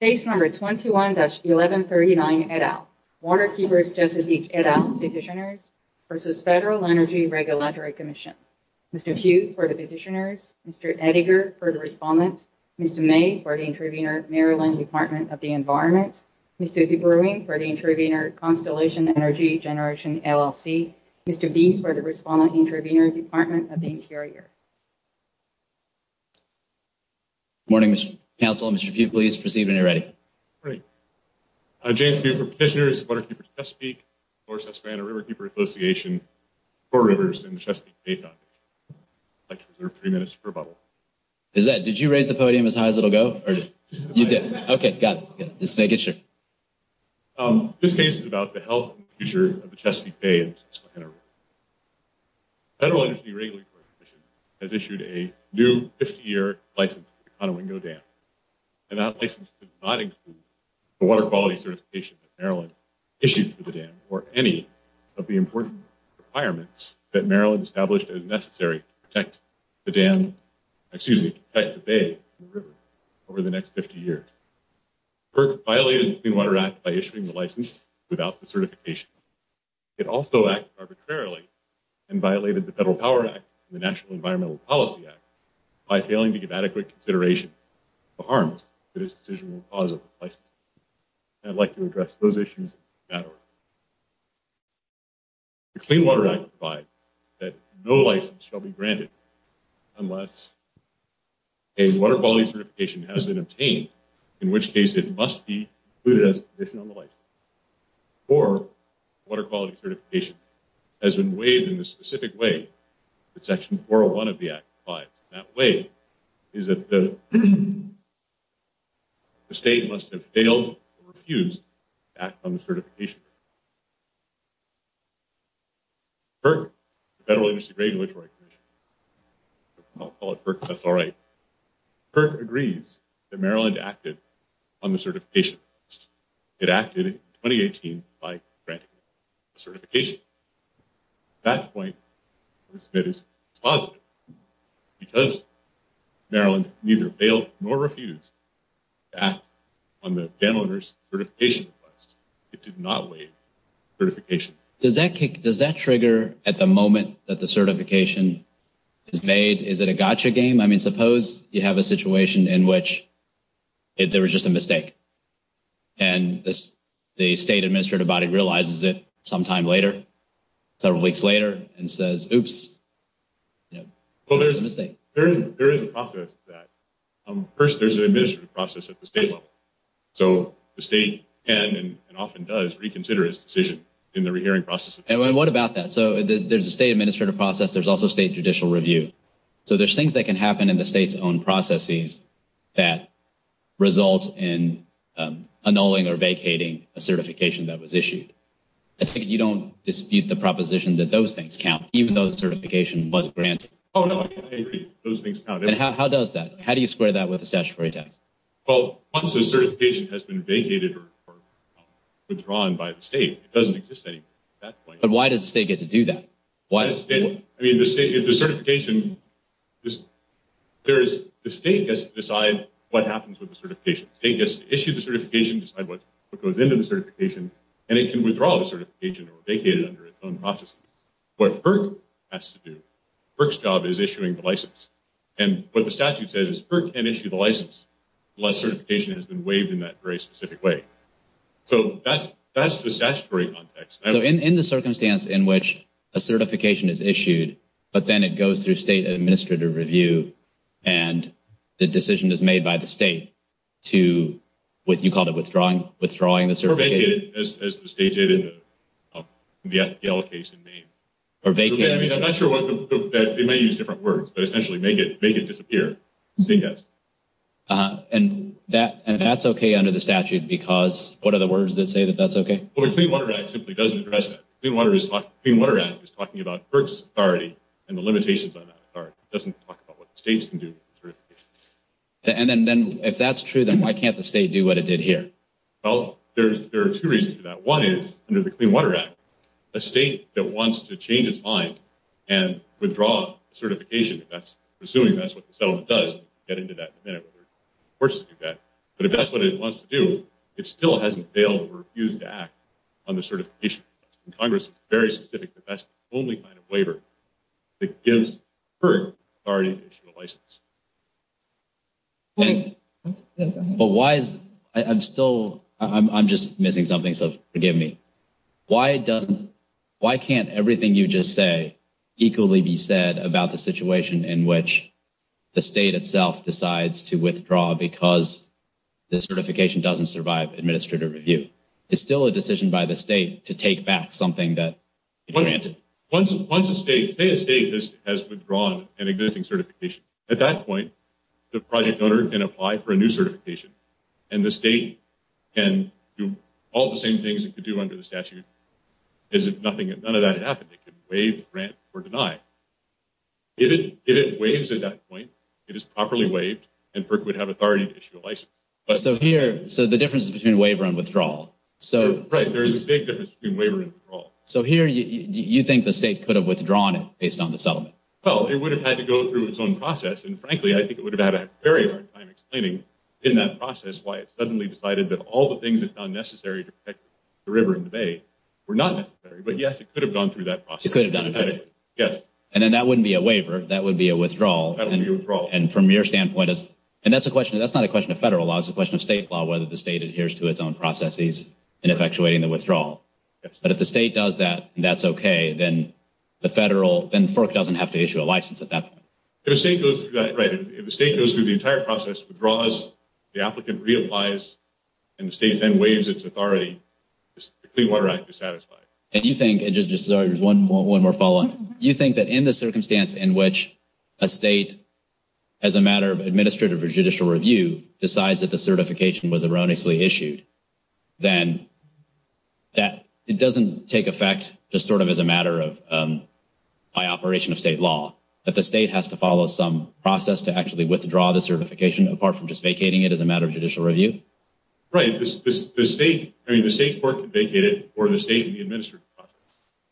Page number 21-1139 et al. Waterkeepers Chesapeake et al. Petitioners v. Federal Energy Regulatory Commission. Mr. Hughes for the Petitioners. Mr. Ettinger for the Respondents. Mr. May for the Intervenors. Maryland Department of the Environment. Mr. DeBruin for the Intervenors. Constellation Energy Generation LLC. Mr. Beese for the Respondents. Intervenors Department of the Interior. Good morning, Mr. Counsel. Mr. Hughes, please proceed when you're ready. James Hughes for the Petitioners. Waterkeepers Chesapeake. North Susquehanna Riverkeeper Association. Four Rivers and the Chesapeake Bay Foundation. I'd like to reserve three minutes for rebuttal. Did you raise the podium as high as it'll go? Okay, got it. Just make it short. This case is about the health and future of the Chesapeake Bay and the Susquehanna River. Federal Energy Regulatory Commission has issued a new 50-year license to the Conowingo Dam. And that license does not include the water quality certification that Maryland issues to the dam or any of the important requirements that Maryland established as necessary to protect the dam, excuse me, to protect the bay and river over the next 50 years. FERC violated the Clean Water Act by issuing the license without the certification. It also acted arbitrarily and violated the Federal Power Act and the National Environmental Policy Act by failing to give adequate consideration to the harms that its decision will cause at the place. And I'd like to address those issues now. The Clean Water Act provides that no license shall be granted unless a water quality certification has been obtained, in which case it must be included as a condition on the license. Or, water quality certification has been waived in the specific way that Section 401 of the Act applies. That waive is if the state must have failed or refused to act on the certification. FERC, the Federal Energy Regulatory Commission, I'll call it FERC because that's all right, FERC agrees that Maryland acted on the certification. It acted in 2018 by granting certification. At that point, the state is positive. Because Maryland neither failed nor refused to act on the dam owner's certification request, it did not waive certification. Does that trigger at the moment that the certification is made? Is it a gotcha game? I mean, suppose you have a situation in which there was just a mistake and the state administrative body realizes it sometime later, several weeks later, and says, oops, there was a mistake. There is a process to that. First, there's an administrative process at the state level. So, the state can and often does reconsider its decision in the rehearing process. And what about that? So, there's a state administrative process. There's also state judicial review. So, there's things that can happen in the state's own processes that result in annulling or vacating a certification that was issued. You don't dispute the proposition that those things count, even though the certification was granted. Oh, no, I agree. Those things count. How does that? How do you square that with a statutory test? Well, once the certification has been vacated or withdrawn by the state, it doesn't exist anymore. But why does the state get to do that? I mean, the state gets to decide what happens with the certification. The state gets to issue the certification, decide what goes into the certification, and it can withdraw the certification or vacate it under its own process. What FERC has to do, FERC's job is issuing the license. And what the statute says is FERC can't issue the license unless certification has been waived in that very specific way. So, that's the statutory context. So, in the circumstance in which a certification is issued, but then it goes through state administrative review, and the decision is made by the state to, what you called it, withdrawing the certification. Or vacate it, as the state did in the FTL case in Maine. Or vacate it. I'm not sure what the, they may use different words, but essentially make it disappear. And that's okay under the statute because, what are the words that say that that's okay? Well, the Clean Water Act simply doesn't address that. The Clean Water Act is talking about FERC's authority and the limitations on that authority. It doesn't talk about what the state can do with the certification. And then, if that's true, then why can't the state do what it did here? Well, there are two reasons for that. One is, under the Clean Water Act, a state that wants to change its mind and withdraw certification, assuming that's what the settlement does, get into that benefit or force it to do that, but if that's what it wants to do, it still hasn't failed or refused to act on the certification. Congress is very specific that that's the only kind of waiver that gives FERC authority and license. But why is, I'm still, I'm just missing something, so forgive me. Why can't everything you just say equally be said about the situation in which the state itself decides to withdraw because the certification doesn't survive administrative review? It's still a decision by the state to take back something that it granted. Once a state, say a state has withdrawn an existing certification. At that point, the project owner can apply for a new certification, and the state can do all the same things it could do under the statute, as if nothing, none of that had happened. It could waive the grant or deny it. If it waives at that point, it is properly waived, and FERC would have authority to issue a license. So here, so the difference is between waiver and withdrawal. Right, there's a state that has to do waiver and withdrawal. So here, you think the state could have withdrawn it based on the settlement? Well, it would have had to go through its own process, and frankly, I think it would have had a very hard time explaining in that process why it suddenly decided that all the things it found necessary to protect the river and the bay were not necessary, but yes, it could have gone through that process. Yes, it could have done it. Yes. And then that wouldn't be a waiver. That would be a withdrawal. That would be a withdrawal. And from your standpoint, and that's not a question of federal law, it's a question of state law, whether the state adheres to its own processes in effectuating the withdrawal. But if the state does that, and that's okay, then FERC doesn't have to issue a license at that point. Right. If the state goes through the entire process, withdraws, the applicant reapplies, and the state then waives its authority, the Clean Water Act is satisfied. One more follow-up. Do you think that in the circumstance in which a state, as a matter of administrative or judicial review, decides that the certification was erroneously issued, then it doesn't take effect just sort of as a matter of by operation of state law, that the state has to follow some process to actually withdraw the certification apart from just vacating it as a matter of judicial review? Right. The state's part to vacate it or the state in the administrative process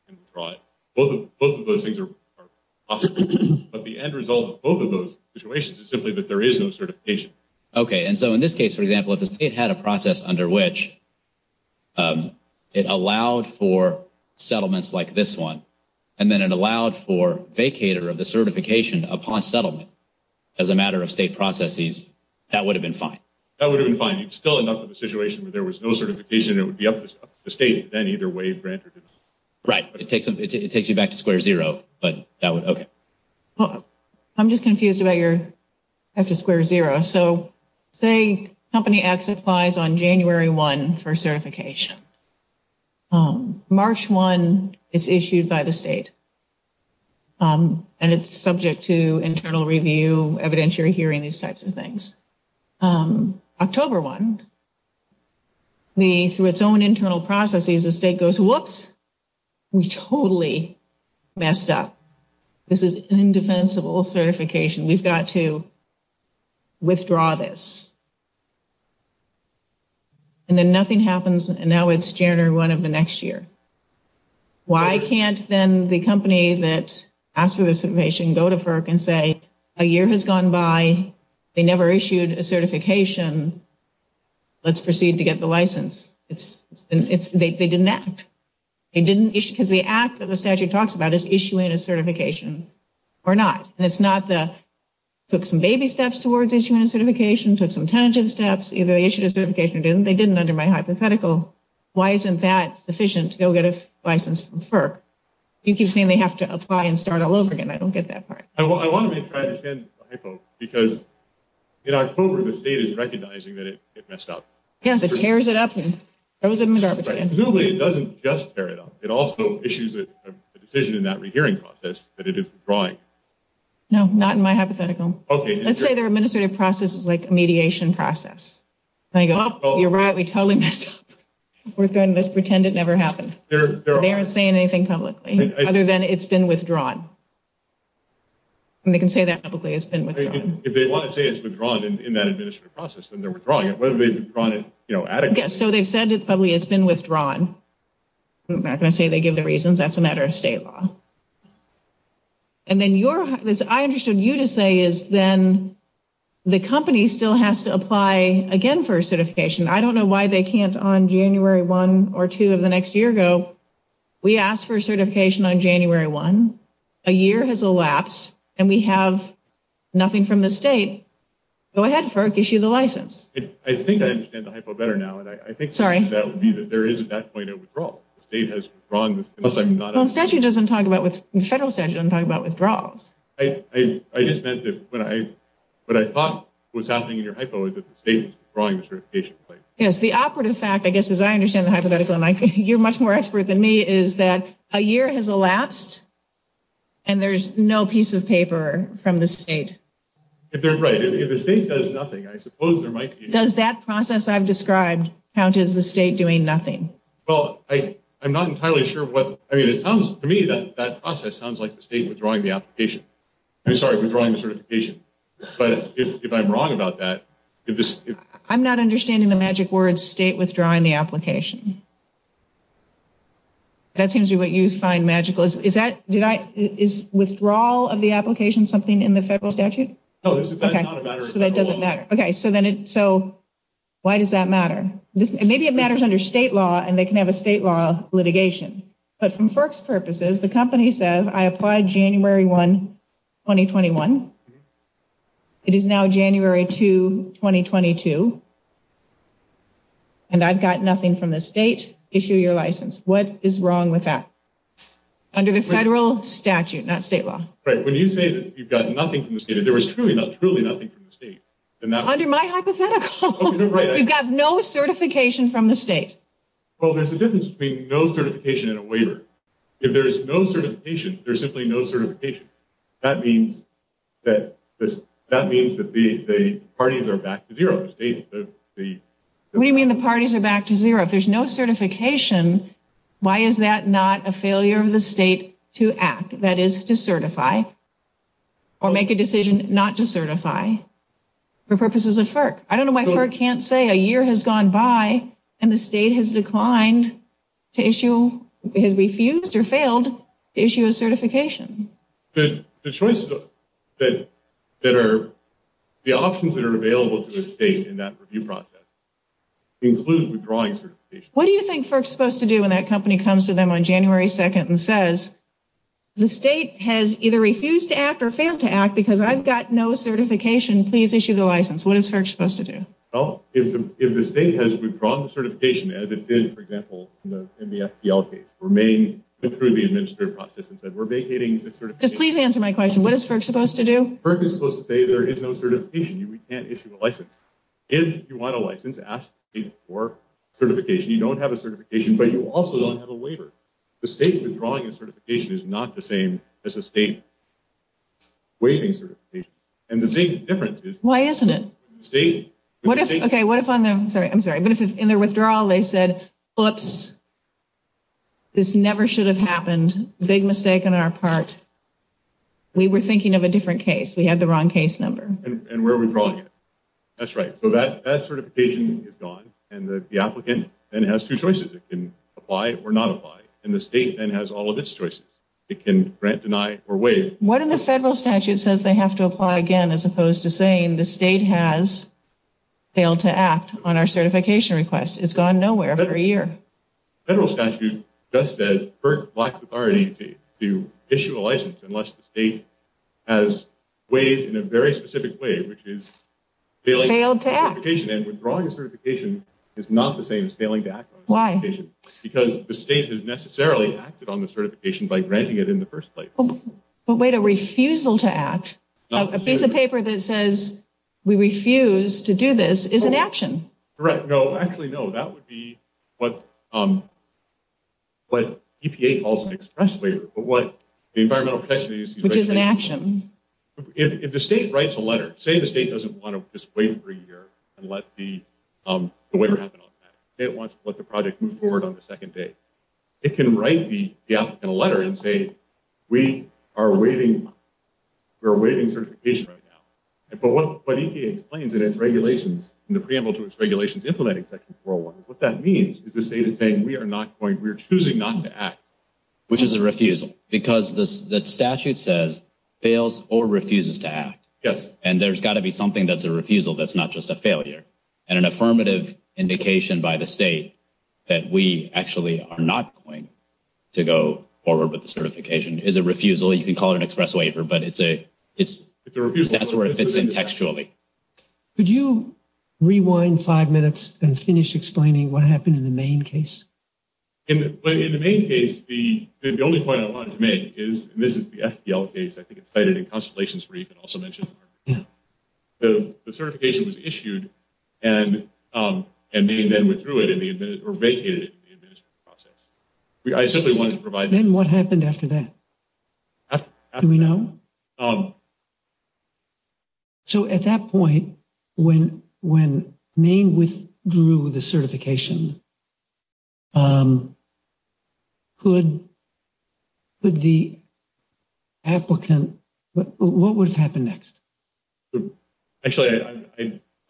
can withdraw it. Both of those things are possible. But the end result of both of those situations is simply that there is no certification. Okay. And so in this case, for example, if the state had a process under which it allowed for settlements like this one, and then it allowed for vacator of the certification upon settlement as a matter of state processes, that would have been fine. That would have been fine. You'd still end up with a situation where there was no certification and it would be up to the state to then either waive that or do this. Right. But it takes you back to square zero. But that would – okay. I'm just confused about your – back to square zero. So say a company absentifies on January 1 for certification. March 1 is issued by the state, and it's subject to internal review, so evident you're hearing these types of things. October 1, through its own internal processes, the state goes, whoops, we totally messed up. This is indefensible certification. We've got to withdraw this. And then nothing happens and now it's January 1 of the next year. Why can't then the company that asked for this information go to FERC and say, a year has gone by. They never issued a certification. Let's proceed to get the license. They didn't act. Because the act that the statute talks about is issuing a certification or not. And it's not the put some baby steps towards issuing a certification, took some tangent steps. Either they issued a certification or didn't. They didn't under my hypothetical. Why isn't that sufficient to go get a license from FERC? You keep saying they have to apply and start all over again. I don't get that part. I want to make my understanding because in October, the state is recognizing that it messed up. Yes, it tears it up. It doesn't just tear it up. It also issues a decision in that rehearing process that it is withdrawing. No, not in my hypothetical. Let's say their administrative process is like a mediation process. You're right, we totally messed up. We're going to just pretend it never happened. They aren't saying anything publicly other than it's been withdrawn. And they can say that publicly, it's been withdrawn. If they want to say it's withdrawn in that administrative process, then they're withdrawing it. Whether they've withdrawn it adequately. Yes, so they said it's been withdrawn. I'm not going to say they give the reasons. That's a matter of state law. And then I understood you to say is then the company still has to apply again for a certification. I don't know why they can't on January 1 or 2 of the next year go, we asked for a certification on January 1, a year has elapsed, and we have nothing from the state. Go ahead, FERC, issue the license. I think I understand the hypo better now. Sorry. I think there is at that point a withdrawal. The state has withdrawn. The statute doesn't talk about withdrawals. I just meant that what I thought was happening in your hypo is that the Yes, the awkward fact, I guess, as I understand the hypothetical, and you're much more expert than me, is that a year has elapsed and there's no piece of paper from the state. They're right. If the state does nothing, I suppose there might be. Does that process I've described count as the state doing nothing? Well, I'm not entirely sure. To me, that process sounds like the state withdrawing the application. Sorry, withdrawing the certification. But if I'm wrong about that. I'm not understanding the magic words, state withdrawing the application. That seems to be what you find magical. Is withdrawal of the application something in the federal statute? That doesn't matter. Okay, so why does that matter? Maybe it matters under state law, and they can have a state law litigation. But for FERC's purposes, the company says, I applied January 1, 2021. It is now January 2, 2022. And I've got nothing from the state. Issue your license. What is wrong with that? Under the federal statute, not state law. Right. When you say that you've got nothing from the state, if there was truly nothing from the state, then that would be great. Under my hypothetical, you've got no certification from the state. Well, there's a difference between no certification and a waiver. If there is no certification, there's simply no certification. That means that the parties are back to zero. What do you mean the parties are back to zero? If there's no certification, why is that not a failure of the state to act? That is to certify or make a decision not to certify for purposes of FERC. I don't know why FERC can't say a year has gone by and the state has declined to issue, has refused or failed to issue a certification. The options that are available to the state in that review process include withdrawing certification. What do you think FERC is supposed to do when that company comes to them on January 2nd and says, the state has either refused to act or failed to act because I've got no certification, please issue the license. What is FERC supposed to do? If the state has withdrawn the certification, as it did, for example, in the FPL case, remain through the administrative process and said, we're vacating the certification. Just please answer my question. What is FERC supposed to do? FERC is supposed to say there is no certification. You can't issue a license. If you want a license, ask for certification. You don't have a certification, but you also don't have a waiver. The state withdrawing a certification is not the same as a state waiving certification. And the same difference is- Why isn't it? Okay, I'm sorry. In the withdrawal, they said, oops, this never should have happened. Big mistake on our part. We were thinking of a different case. We had the wrong case number. And we're withdrawing it. That's right. So that certification is gone, and the applicant then has two choices. It can apply or not apply. And the state then has all of its choices. It can grant, deny, or waive. What if the federal statute says they have to apply again, as opposed to saying the state has failed to act on our certification request? It's gone nowhere for a year. Federal statute just says, FERC blocks the authority to issue a license unless the state has waived in a very specific way, which is- Failed to act. And withdrawing a certification is not the same as failing to act. Why? Because the state has necessarily acted on the certification by granting it in the first place. But wait, a refusal to act. A piece of paper that says we refuse to do this is an action. Correct. No, actually, no. That would be what EPA calls an express waiver, but what the Environmental Protection Agency- Which is an action. If the state writes a letter, say the state doesn't want to just waive a three-year and let the waiver happen on that. Say it wants to let the project move forward on the second day. It can write the applicant a letter and say, we are waiving certification right now. But what EPA explains in its regulations, in the preamble to its regulations implementing Section 401, what that means is the state is saying we are choosing not to act. Which is a refusal. Because the statute says fails or refuses to act. Yes. And there's got to be something that's a refusal that's not just a failure. And an affirmative indication by the state that we actually are not going to go forward with the certification. It's a refusal. You can call it an express waiver, but it's a refusal. That's where it fits in textually. Could you rewind five minutes and finish explaining what happened in the Maine case? In the Maine case, the only point I wanted to make is, and this is the FDL case. I think it's cited in Constellations where you can also mention it. Yeah. The certification was issued, and Maine then withdrew it, or vacated it in the administrative process. Then what happened after that? Do we know? So at that point, when Maine withdrew the certification, could the applicant, what would happen next? Actually,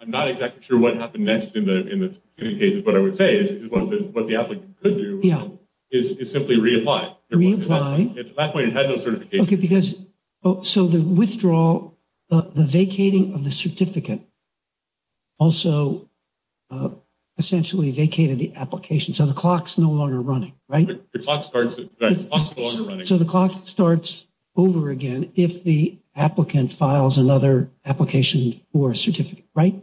I'm not exactly sure what happened next in the case, but I would say what the applicant could do is simply reapply. Reapply. At that point, it had no certification. So the withdrawal, the vacating of the certificate, also essentially vacated the application. So the clock's no longer running, right? The clock's no longer running. So the clock starts over again if the applicant files another application for a certificate, right?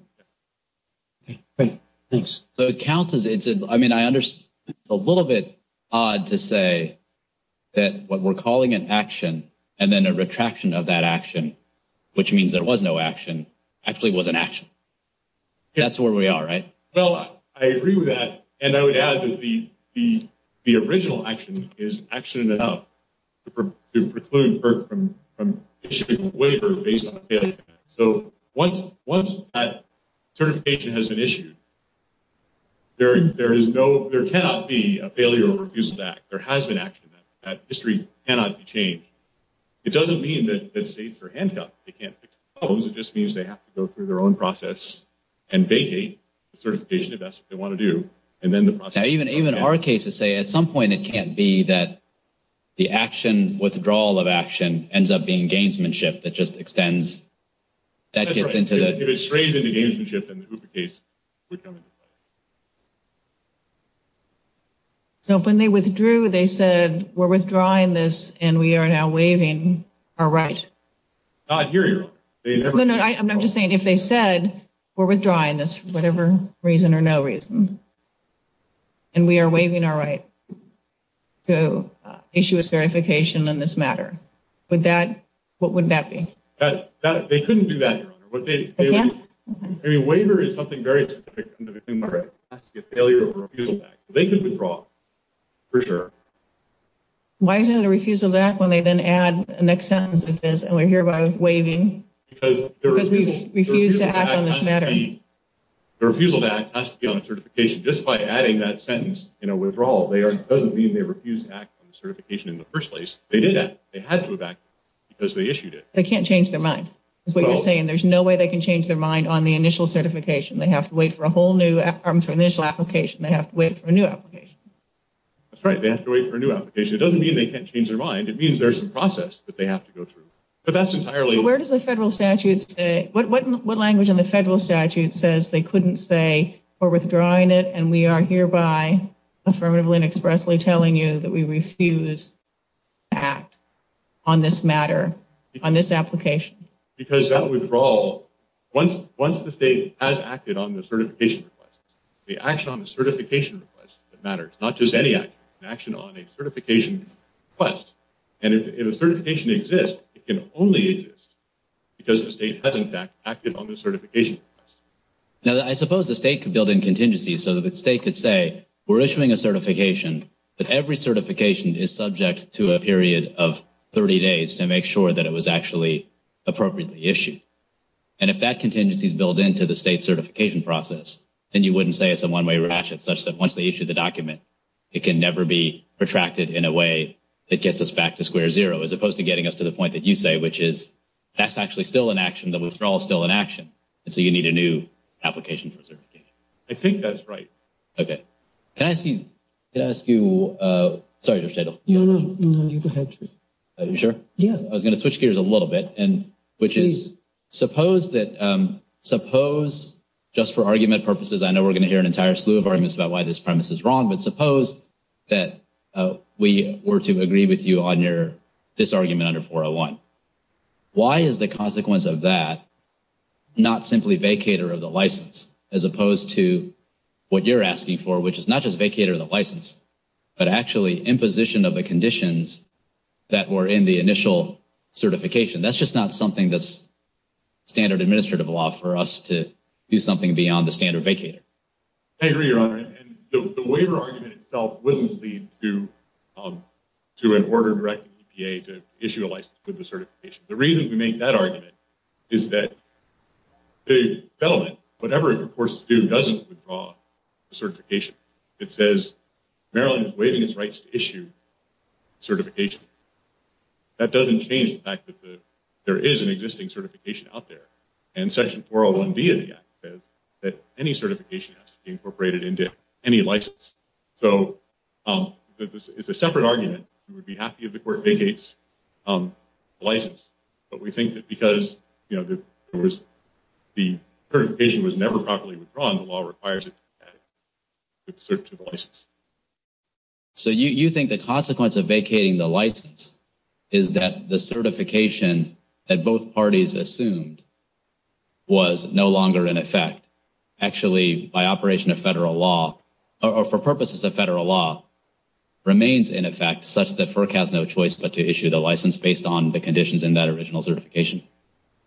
Yeah. Okay, great. Thanks. So it counts as, I mean, I understand it's a little bit odd to say that what we're calling an action and then a retraction of that action, which means there was no action, actually was an action. That's where we are, right? So I agree with that, and I would add that the original action is actually to preclude from issuing a waiver based on failure. So once that certification has been issued, there cannot be a failure or a refusal to act. There has been action. That history cannot be changed. It doesn't mean that it's safe for handcuffs. They can't fix the problems. It just means they have to go through their own process and vacate the certification if that's what they want to do. Even our cases say at some point it can't be that the withdrawal of action ends up being a gainsmanship that just extends. That's right. It estranges the gainsmanship and duplicates. So when they withdrew, they said, we're withdrawing this and we are now waiving our rights. I hear you. I'm just saying if they said we're withdrawing this for whatever reason or no reason and we are waiving our rights to issue a certification on this matter, what would that be? They couldn't do that. A waiver is something very significant. It has to be a failure or a refusal to act. They could withdraw for sure. Why is it a refusal to act when they then add a next sentence that says, and we're hereby waiving, because we refuse to act on this matter. The refusal to act has to be on a certification. Just by adding that sentence, withdrawal, it doesn't mean they refused to act on the certification in the first place. They did act. They had to act because they issued it. They can't change their mind. That's what you're saying. There's no way they can change their mind on the initial certification. They have to wait for a whole new initial application. They have to wait for a new application. That's right. They have to wait for a new application. It doesn't mean they can't change their mind. It means there's a process that they have to go through. Where does the federal statute say, what language in the federal statute says they couldn't say we're withdrawing it and we are hereby affirmatively and expressly telling you that we refuse to act on this matter, on this application? Because that withdrawal, once the state has acted on the certification request, the action on the certification request matters. Not just any action on a certification request. And if a certification exists, it can only exist because the state has, in fact, acted on the certification request. Now, I suppose the state could build in contingencies so that the state could say, we're issuing a certification, but every certification is subject to a period of 30 days to make sure that it was actually appropriately issued. And if that contingency is built into the state's certification process, then you wouldn't say it's a one-way ratchet, such that once they issue the document, it can never be retracted in a way that gets us back to square zero, as opposed to getting us to the point that you say, which is that's actually still an action, the withdrawal is still an action. And so you need a new application for certification. I think that's right. Okay. Can I ask you, sorry Dr. Chadle. No, no, go ahead. Are you sure? Yeah. I was going to switch gears a little bit, which is suppose that, suppose, just for argument purposes, I know we're going to hear an entire slew of arguments about why this premise is wrong, but suppose that we were to agree with you on this argument under 401. Why is the consequence of that not simply vacator of the license, as opposed to what you're asking for, which is not just vacator of the license, but actually imposition of the conditions that were in the initial certification? That's just not something that's standard administrative law for us to do something beyond the standard vacator. I agree, Your Honor. And the waiver argument itself wouldn't lead to an order directed to EPA to issue a license for the certification. The reason we make that argument is that it's relevant. Whatever it forces to do doesn't withdraw the certification. It says Maryland is waiving its rights to issue certification. That doesn't change the fact that there is an existing certification out there. And Section 401B of the Act says that any certification has to be incorporated into any license. So it's a separate argument. We would be happy if the court vacates the license, but we think that because the certification was never properly withdrawn, the law requires it to be vacated in search of the license. So you think the consequence of vacating the license is that the certification that both parties assumed was no longer in effect, actually by operation of federal law or for purposes of federal law, remains in effect such that FERC has no choice but to issue the license based on the conditions in that original certification?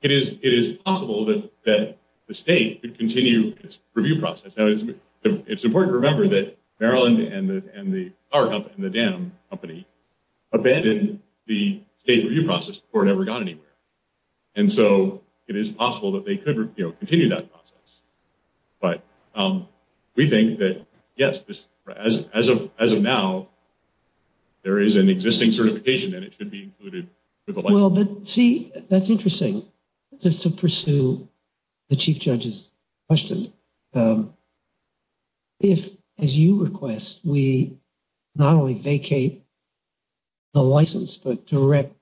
It is possible that the state could continue its review process. It's important to remember that Maryland and the DAM company abandoned the state review process before it ever got anywhere. And so it is possible that they could continue that process. But we think that, yes, as of now, there is an existing certification and it can be included with the license. Well, but see, that's interesting. Just to pursue the Chief Judge's question, if, as you request, we not only vacate the license but direct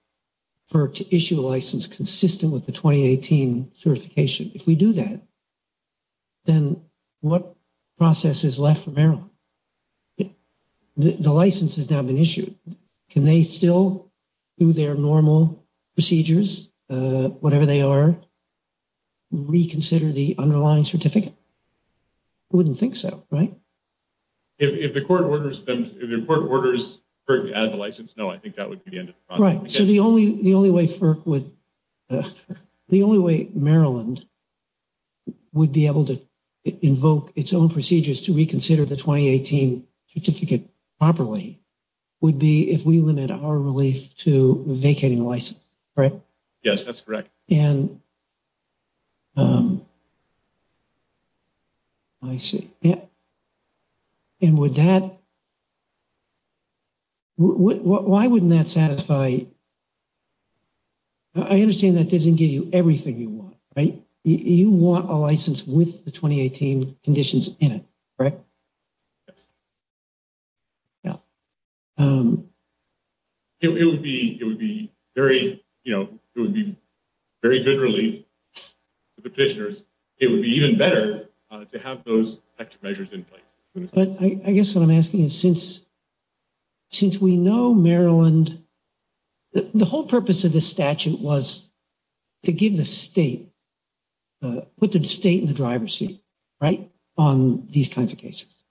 FERC to issue a license consistent with the 2018 certification, if we do that, then what process is left for Maryland? The license has now been issued. Can they still do their normal procedures, whatever they are, reconsider the underlying certificate? I wouldn't think so, right? If the court orders FERC to add the license, no, I think that would be the end of the problem. Right. So the only way Maryland would be able to invoke its own procedures to reconsider the 2018 certificate properly would be if we limited our release to vacating the license, right? Yes, that's correct. And I see. Yes. And would that – why wouldn't that satisfy – I understand that doesn't give you everything you want, right? You want a license with the 2018 conditions in it, correct? Yes. Yes. It would be very, you know, it would be very good relief to the petitioners. It would be even better to have those extra measures in place. I guess what I'm asking is since we know Maryland – the whole purpose of this statute was to give the state – put the state in the driver's seat, right, on these kinds of cases,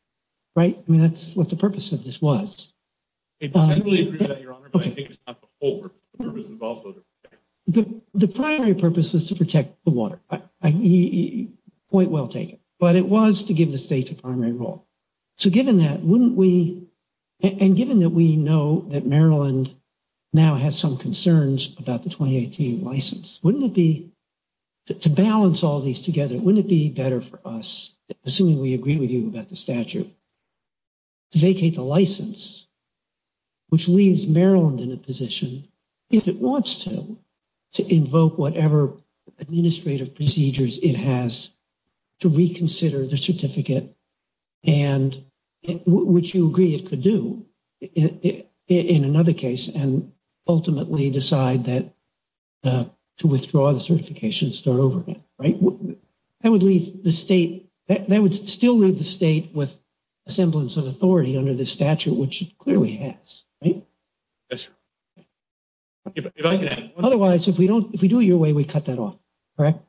right? I mean, that's what the purpose of this was. I fully agree with that, Your Honor, but I think it's not the whole purpose. The purpose is also to protect. The primary purpose is to protect the water. Point well taken. But it was to give the state a primary role. So given that, wouldn't we – and given that we know that Maryland now has some concerns about the 2018 license, wouldn't it be – to balance all these together, wouldn't it be better for us, assuming we agree with you about the statute, to vacate the license, which leaves Maryland in a position, if it wants to, to invoke whatever administrative procedures it has to reconsider the certificate, and which you agree it could do in another case and ultimately decide to withdraw the certification and start over again, right? That would leave the state – that would still leave the state with a semblance of authority under the statute, which it clearly has, right? Yes, Your Honor. Otherwise, if we don't – if we do it your way, we cut that off, correct?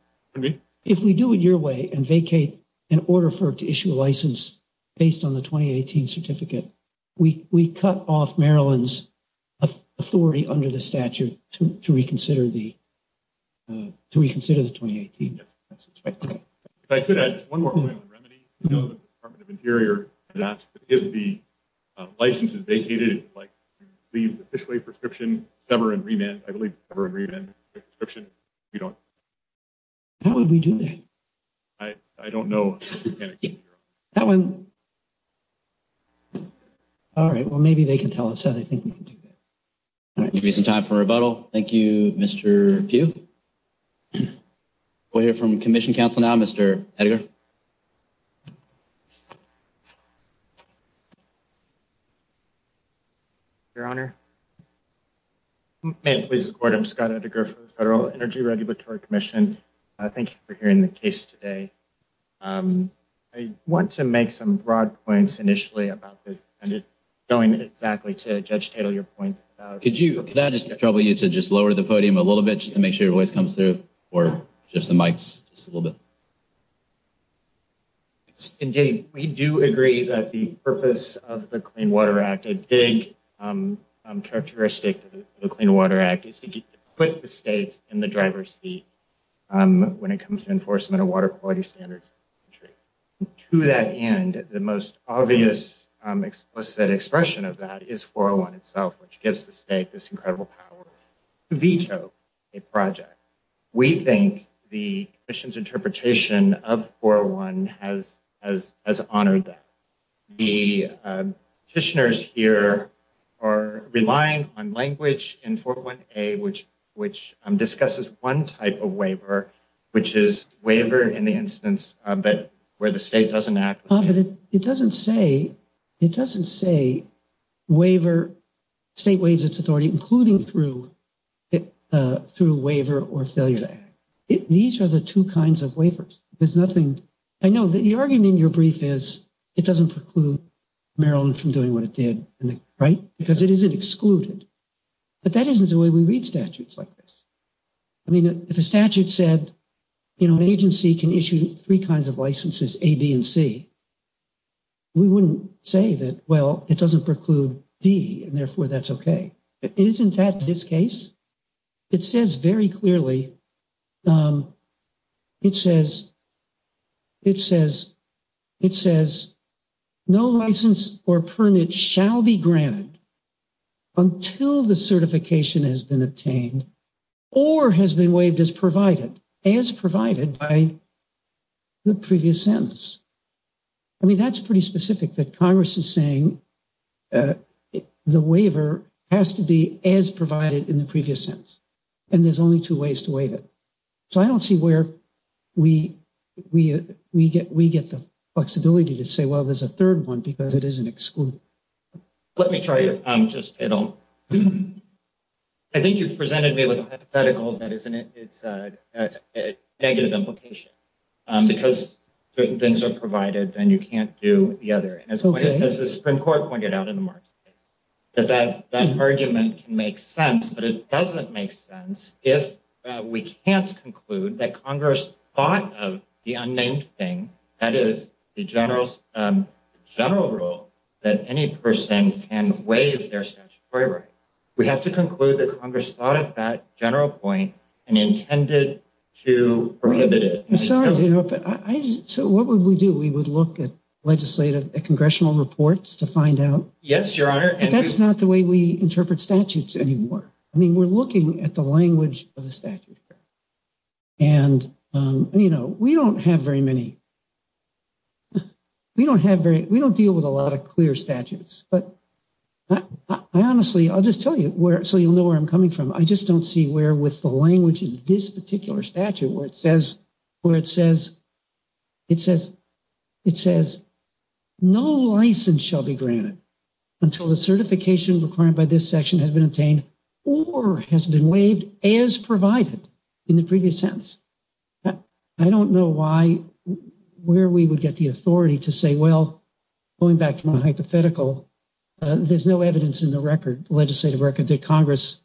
If we do it your way and vacate in order for it to issue a license based on the 2018 certificate, we cut off Maryland's authority under the statute to reconsider the – to reconsider the 2018. Yes, that's expected. If I could add just one more point on remedy. You know, the Department of Interior did ask to give the license that they needed, like, to leave officially prescription, cover and remand, I believe cover and remand prescription, you know. How would we do that? I don't know. That one. All right. Well, maybe they can tell us that. I think we can do that. All right. We have some time for rebuttal. Thank you, Mr. Pugh. We'll hear from Commission Counsel now, Mr. Edgar. Your Honor. Hey, this is Gordon. I'm Scott Edgar from the Federal Energy Regulatory Commission. Thank you for hearing the case today. I want to make some broad points initially about this. I'm just going exactly to Judge Taylor's point. Could you – could I just trouble you to just lower the podium a little bit just to make sure your voice comes through, or just the mics just a little bit? Indeed. We do agree that the purpose of the Clean Water Act, which is a big characteristic of the Clean Water Act, is to put the state in the driver's seat when it comes to enforcement of water quality standards. To that end, the most obvious explicit expression of that is 401 itself, which gives the state this incredible power to veto a project. We think the Commission's interpretation of 401 has honored that. The petitioners here are relying on language in 401A, which discusses one type of waiver, which is waiver in the instance where the state doesn't act. It doesn't say waiver – state waives its authority, including through waiver or failure. I know that the argument in your brief is it doesn't preclude Maryland from doing what it did, right? Because it isn't excluded. But that isn't the way we read statutes like this. I mean, if a statute said, you know, an agency can issue three kinds of licenses, A, B, and C, we wouldn't say that, well, it doesn't preclude D, and therefore that's okay. Isn't that this case? It says very clearly, it says, it says, it says, no license or permit shall be granted until the certification has been obtained or has been waived as provided, as provided by the previous sentence. I mean, that's pretty specific that Congress is saying the waiver has to be as provided in the previous sentence. And there's only two ways to waive it. So I don't see where we get the flexibility to say, well, there's a third one because it isn't excluded. Let me try to just – I think you presented me with a hypothetical that is negative implication. Because if certain things are provided, then you can't do the other. And as the Supreme Court pointed out in March, that that argument makes sense, but it doesn't make sense if we can't conclude that Congress thought of the unnamed thing, that is, the general rule that any person can waive their statutory right. We have to conclude that Congress thought of that general point and intended to prohibit it. So what would we do? We would look at legislative, at congressional reports to find out? Yes, Your Honor. That's not the way we interpret statutes anymore. I mean, we're looking at the language of the statute. And, you know, we don't have very many, we don't have very, we don't deal with a lot of clear statutes. But I honestly, I'll just tell you so you'll know where I'm coming from. I just don't see where with the language in this particular statute where it says, where it says, it says, it says no license shall be granted until the certification required by this section has been obtained or has been waived as provided in the previous sentence. I don't know why, where we would get the authority to say, well, going back to my hypothetical, there's no evidence in the record, legislative record, that Congress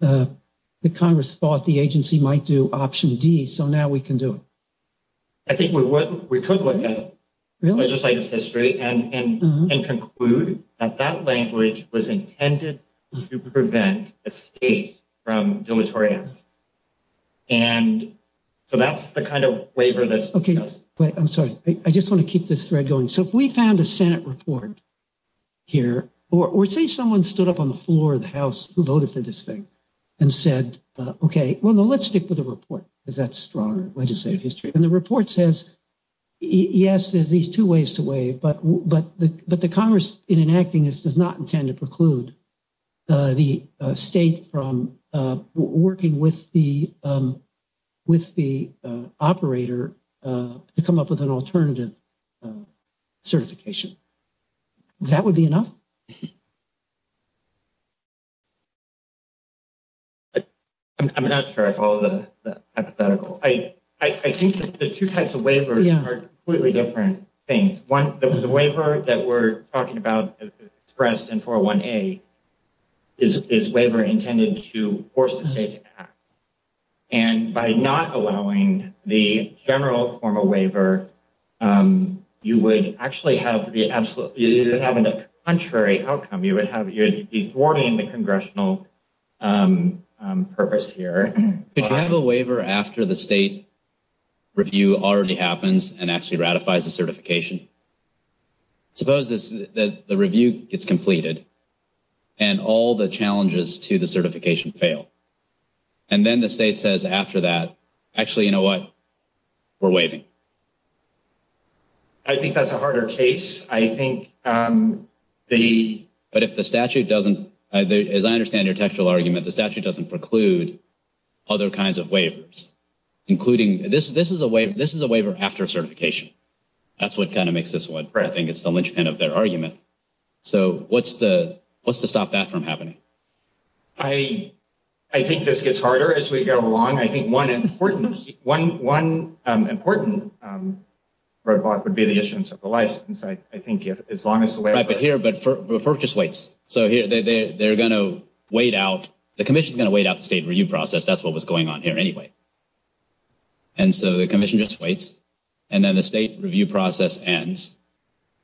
thought the agency might do option D. So now we can do it. I think we could look at legislative history and conclude that that language was intended to prevent a state from deleterious. And so that's the kind of way for this. Okay. I'm sorry. I just want to keep this thread going. So if we found a Senate report here, or say someone stood up on the floor of the House who voted for this thing and said, okay, well, let's stick with the report because that's stronger legislative history. And the report says, yes, there's these two ways to waive, but the Congress in enacting this does not intend to preclude the state from working with the operator to come up with an alternative certification. That would be enough. I'm not sure I follow the hypothetical. I think the two types of waivers are completely different things. One, the waiver that we're talking about expressed in 401A is a waiver intended to force the state to act. And by not allowing the general form of waiver, you would actually have the absolute, you would have the contrary outcome. You would be thwarting the congressional purpose here. If I have a waiver after the state review already happens and actually ratifies the certification, suppose the review is completed and all the challenges to the certification fail. And then the state says after that, actually, you know what, we're waiving. I think that's a harder case. But if the statute doesn't, as I understand your textual argument, the statute doesn't preclude other kinds of waivers, including, this is a waiver after certification. That's what kind of makes this one. I think it's the linchpin of their argument. So what's to stop that from happening? I think this gets harder as we go along. I think one important part would be the issuance of the license. I think as long as the waiver… Right, but here, FERC just waits. So they're going to wait out, the commission's going to wait out the state review process. That's what was going on here anyway. And so the commission just waits. And then the state review process ends.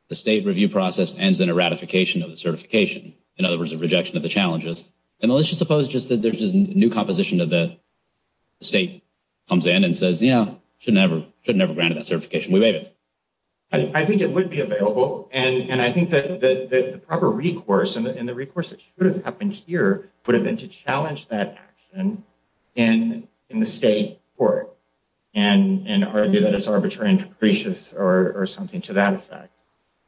The state review process ends in a ratification of the certification. In other words, a rejection of the challenges. And let's just suppose that there's a new composition of the state comes in and says, yeah, we should never have granted that certification. We waived it. I think it would be available. And I think that the proper recourse, and the recourse that should have happened here, would have been to challenge that action in the state court. And argue that it's arbitrary and capricious or something to that effect.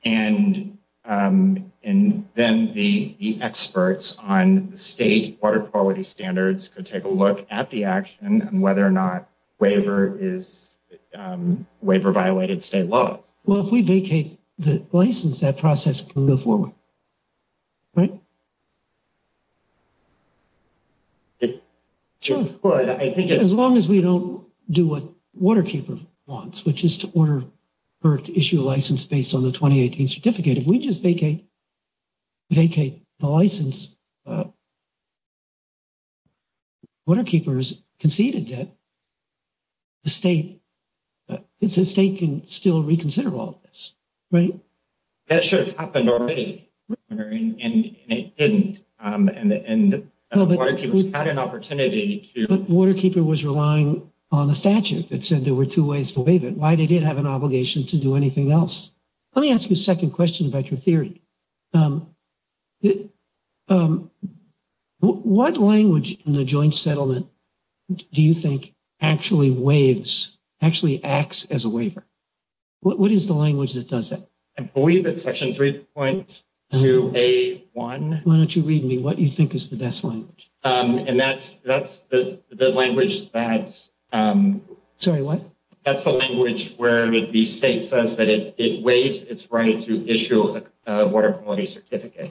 And then the experts on state water quality standards could take a look at the action and whether or not waiver is, waiver violated state law. Well, if we vacate the license, that process can go forward. Right? Sure. As long as we don't do what Waterkeeper wants, which is to order her to issue a license based on the 2018 certificate. If we just vacate the license, Waterkeeper has conceded that the state can still reconsider all of this. Right? That should have happened already. And it didn't. And Waterkeeper had an opportunity to. But Waterkeeper was relying on the statute that said there were two ways to waive it. Why did it have an obligation to do anything else? Let me ask you a second question about your theory. What language in the joint settlement do you think actually waives, actually acts as a waiver? What is the language that does that? I believe that section three points to A1. Why don't you read me what you think is the best one? And that's the language that's... Sorry, what? That's the language where the state says that it waives its right to issue a water quality certificate.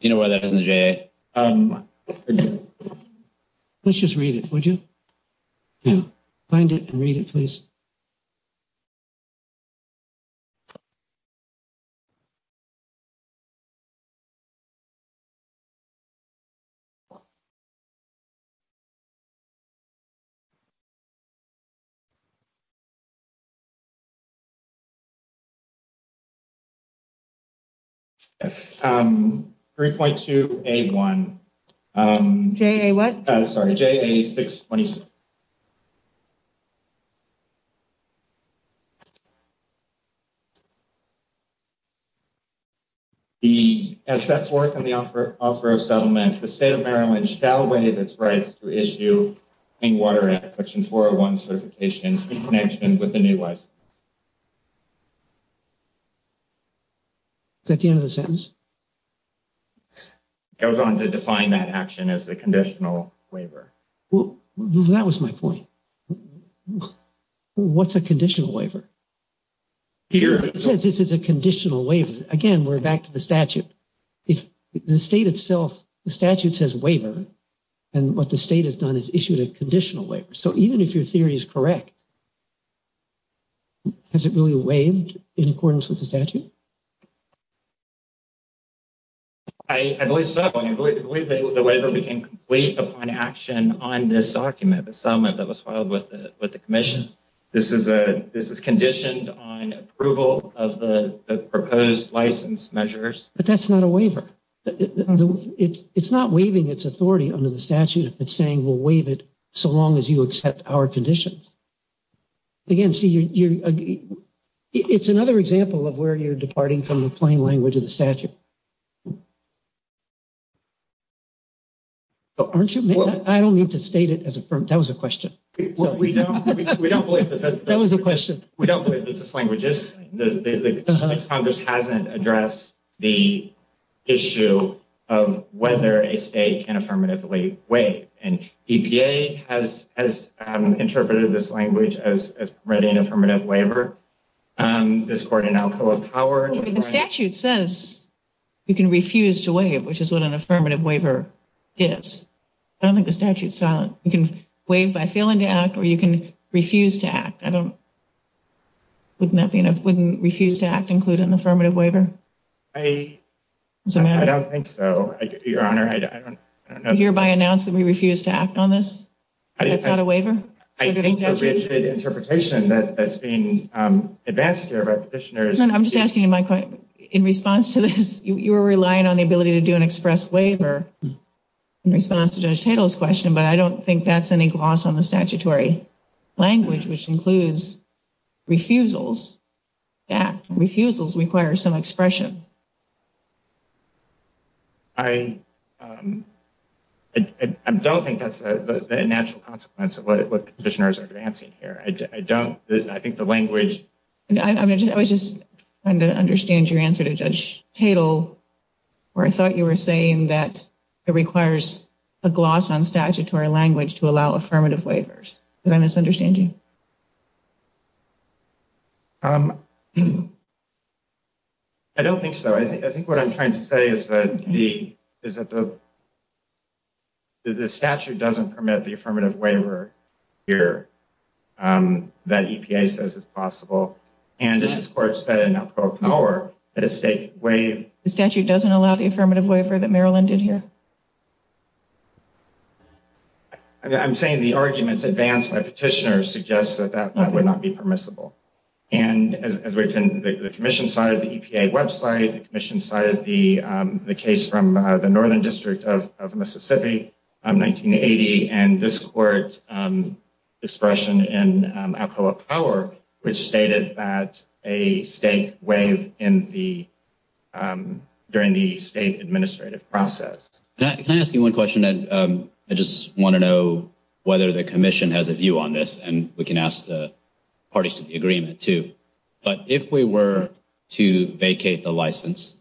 You know what, that's in the J.A. Let's just read it, would you? Yeah. Find it and read it, please. Three point two A1. J.A. what? J.A. Is that the end of the sentence? Goes on to define that action as a conditional waiver. Well, that was my point. What's a conditional waiver? It says this is a conditional waiver. Again, we're back to the statute. The state itself, the statute says waiver, and what the state has done is issued a conditional waiver. So even if your theory is correct, does it really waive in accordance with the statute? I believe so. I believe the waiver we can complete upon action on this document, the settlement that was filed with the commission. This is conditioned on approval of the proposed license measures. But that's not a waiver. It's not waiving its authority under the statute if it's saying we'll waive it so long as you accept our conditions. Again, see, it's another example of where you're departing from the plain language of the statute. Aren't you? I don't need to state it as affirmed. That was a question. We don't believe that. That was a question. We don't believe it's a plain language. Congress hasn't addressed the issue of whether a state can affirmatively waive. EPA has interpreted this language as readying an affirmative waiver. This court has now pulled it forward. But the statute says you can refuse to waive, which is what an affirmative waiver is. I don't think the statute saw it. You can waive by failing to act, or you can refuse to act. Wouldn't refuse to act include an affirmative waiver? I don't think so, Your Honor. Would you hereby announce that we refuse to act on this? It's not a waiver? I think it's an interpretation that's being advanced here by the petitioners. I'm just asking you my question. In response to this, you were relying on the ability to do an express waiver in response to Judge Tatel's question, but I don't think that's any gloss on the statutory language, which includes refusals. Refusals require some expression. I don't think that's a natural consequence of what the petitioners are advancing here. I don't. I think the language— I was just trying to understand your answer to Judge Tatel, where I thought you were saying that it requires a gloss on statutory language to allow affirmative waivers. Did I misunderstand you? I don't think so. I think what I'm trying to say is that the statute doesn't permit the affirmative waiver here that EPA says is possible, and this is where it's said in a pro power that a state waiver— The statute doesn't allow the affirmative waiver that Maryland did here? I'm saying the arguments advanced by petitioners suggest that the statute doesn't allow affirmative waivers. It suggests that that would not be permissible. And as written, the commission cited the EPA website, the commission cited the case from the Northern District of Mississippi in 1980, and this court's expression in a pro power, which stated that a state waived during the state administrative process. Can I ask you one question? I just want to know whether the commission has a view on this, and we can ask the parties to the agreement, too. But if we were to vacate the license,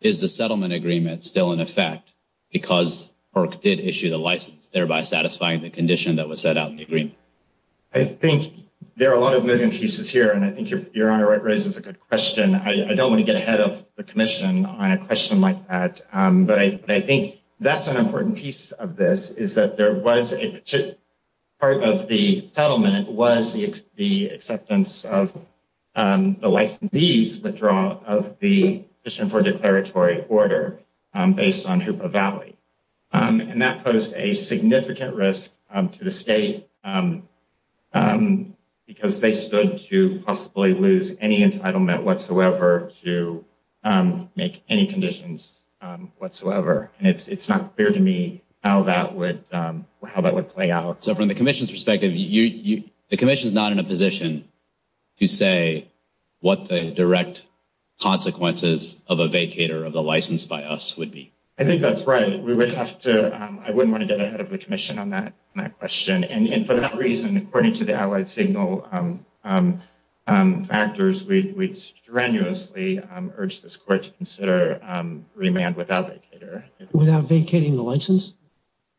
is the settlement agreement still in effect because FERC did issue the license, thereby satisfying the condition that was set out in the agreement? I think there are a lot of moving pieces here, and I think Your Honor raises a good question. I don't want to get ahead of the commission on a question like that, but I think that's an important piece of this is that part of the settlement was the acceptance of the licensee's withdrawal of the mission for the territory order based on Hoopa Valley, and that posed a significant risk to the state because they stood to possibly lose any entitlement whatsoever to make any conditions whatsoever. And it's not clear to me how that would play out. So from the commission's perspective, the commission's not in a position to say what the direct consequences of a vacater of the license by us would be. I think that's right. I wouldn't want to get ahead of the commission on that question. And for that reason, according to the allied signal factors, we strenuously urge this court to consider remand without vacater. Without vacating the license?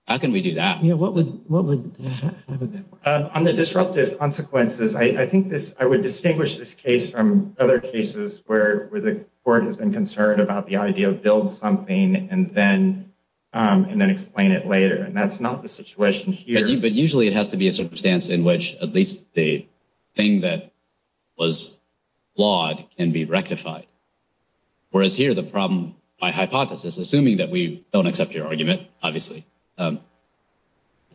How can we do that? Under disruptive consequences, I think I would distinguish this case from other cases where the court has been concerned about the idea of building something and then explain it later. And that's not the situation here. But usually it has to be a circumstance in which at least the thing that was flawed can be rectified. Whereas here the problem by hypothesis, assuming that we don't accept your argument, obviously,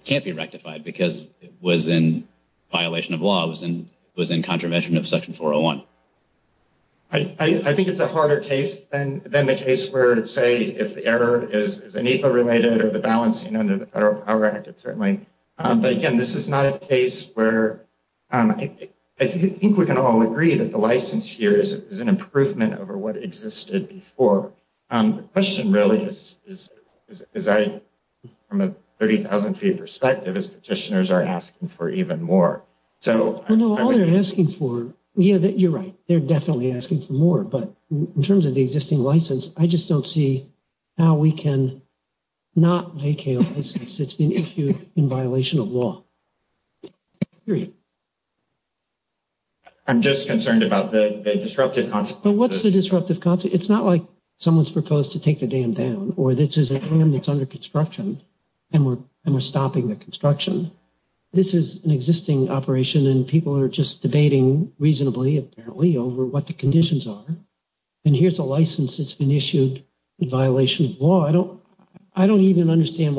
can't be rectified because it was in violation of laws and was in contravention of Section 401. I think it's a harder case than the case where, say, if the error is an EFA-related or the balancing under the Federal Power Act, certainly. But again, this is not a case where I think we can all agree that the license here is an improvement over what existed before. The question really is, from a 30,000 feet perspective, is petitioners are asking for even more. All they're asking for, you're right, they're definitely asking for more. But in terms of the existing license, I just don't see how we can not vacate a license that's been issued in violation of law. I'm just concerned about the disruptive consequences. What's the disruptive consequences? It's not like someone's proposed to take the dam down or this is a dam that's under construction and we're stopping the construction. This is an existing operation and people are just debating reasonably, apparently, over what the conditions are. And here's a license that's been issued in violation of law. I don't even understand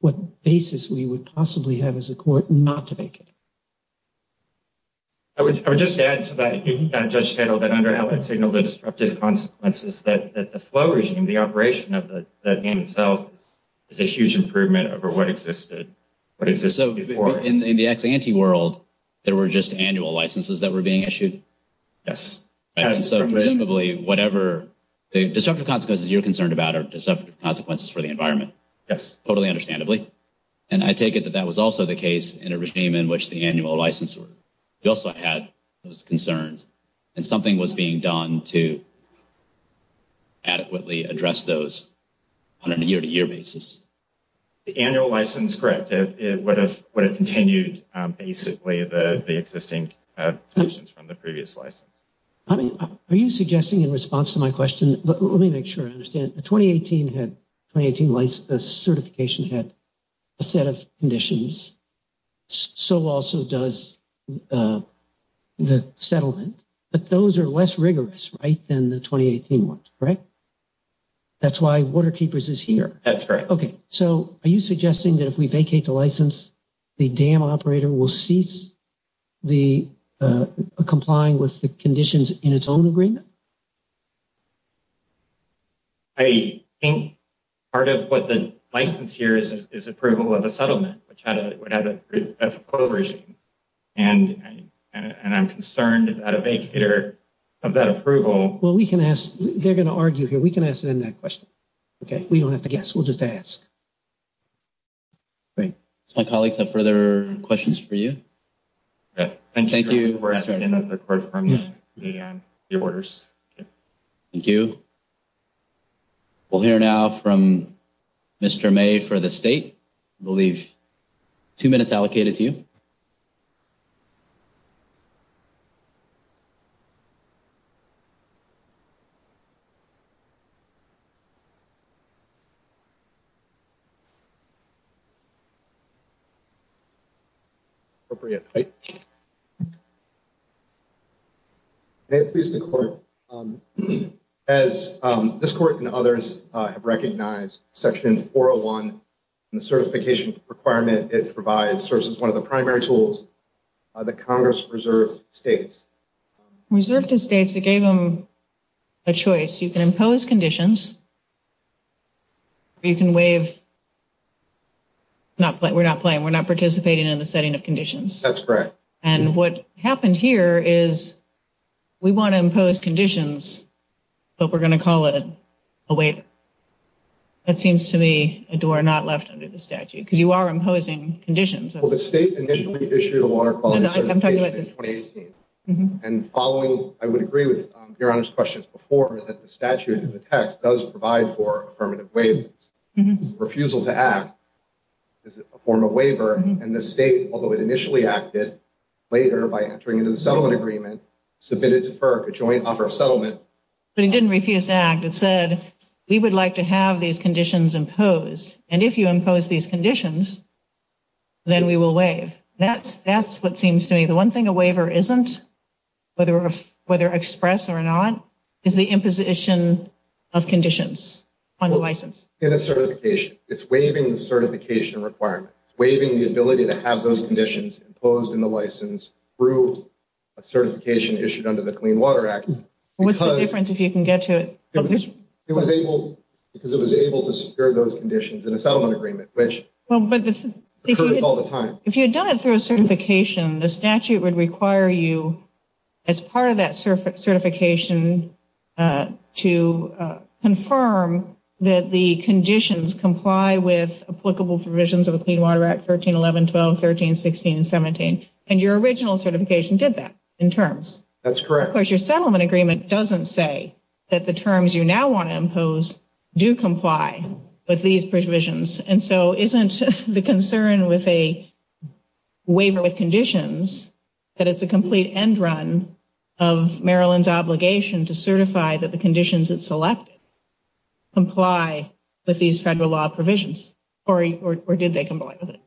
what basis we would possibly have as a court not to vacate it. I would just add to that. We have just settled that under LSA there were disruptive consequences that the flow regime, the operation of the dam itself, is a huge improvement over what existed before. So, in the anti-world, there were just annual licenses that were being issued? Yes. So, presumably, whatever the disruptive consequences you're concerned about are disruptive consequences for the environment? Yes. Totally understandably. And I take it that that was also the case in a regime in which the annual license was issued. You also had those concerns. And something was being done to adequately address those on a year-to-year basis. The annual license, correct. But it continued basically the existing license from the previous license. Are you suggesting in response to my question, let me make sure I understand. The 2018 certification had a set of conditions. So also does the settlement. But those are less rigorous, right, than the 2018 ones, right? That's why Waterkeepers is here. That's right. Okay. So, are you suggesting that if we vacate the license, the dam operator will cease the complying with the conditions in its own agreement? I think part of what the license here is approval of the settlement, which would have a coercion. And I'm concerned at a vague fear of that approval. Well, we can ask. They're going to argue here. We can ask them that question. Okay. We don't have to guess. We'll just ask. Great. So, colleagues, are there further questions for you? Thank you. Thank you. We'll hear now from Mr. May for the state. We'll leave two minutes allocated to you. As this court and others have recognized, Section 401, the certification requirement, it provides, serves as one of the primary tools that Congress reserves states. Reserves the states. It gave them a choice. You can impose conditions. You can waive. We're not playing. We're not participating in the setting of conditions. Okay. That's correct. And what happened here is we want to impose conditions, but we're going to call it a waiver. That seems to me a door not left under the statute, because you are imposing conditions. Well, the state initially issued a water quality certification in 2018. And following, I would agree with your Honor's questions before, is that the statute, the text, does provide for affirmative waiving. Refusal to act is a form of waiver. And the state, although it initially acted, later, by entering into the settlement agreement, submitted to FERC a joint offer of settlement. But it didn't refuse to act. It said, we would like to have these conditions imposed. And if you impose these conditions, then we will waive. That's what seems to me the one thing a waiver isn't, whether expressed or not, is the imposition of conditions on the license. In a certification, it's waiving the certification requirement. It's waiving the ability to have those conditions imposed in the license through a certification issued under the Clean Water Act. What's the difference, if you can get to it? Because it was able to secure those conditions in a settlement agreement, which occurs all the time. If you had done it through a certification, the statute would require you, as part of that certification, to confirm that the conditions comply with applicable provisions of the Clean Water Act 1311, 12, 13, 16, 17. And your original certification did that, in terms. That's correct. Of course, your settlement agreement doesn't say that the terms you now want to impose do comply with these provisions. And so, isn't the concern with a waiver of conditions that it's a complete end run of Maryland's obligation to certify that the conditions it selected comply with these federal law provisions? Or did they comply with it?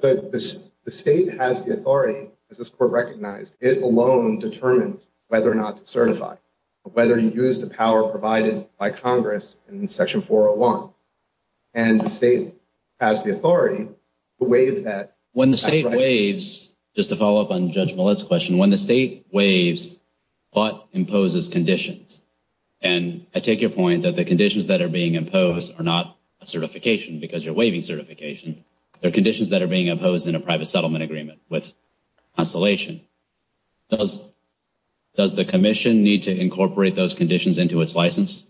The state has the authority, as this Court recognized, it alone determines whether or not to certify. Whether you use the power provided by Congress in Section 401. And the state has the authority to waive that. When the state waives, just to follow up on Judge Millett's question, when the state waives, what imposes conditions? And I take your point that the conditions that are being imposed are not a certification, because you're waiving certification. They're conditions that are being imposed in a private settlement agreement with consolation. Does the Commission need to incorporate those conditions into its license?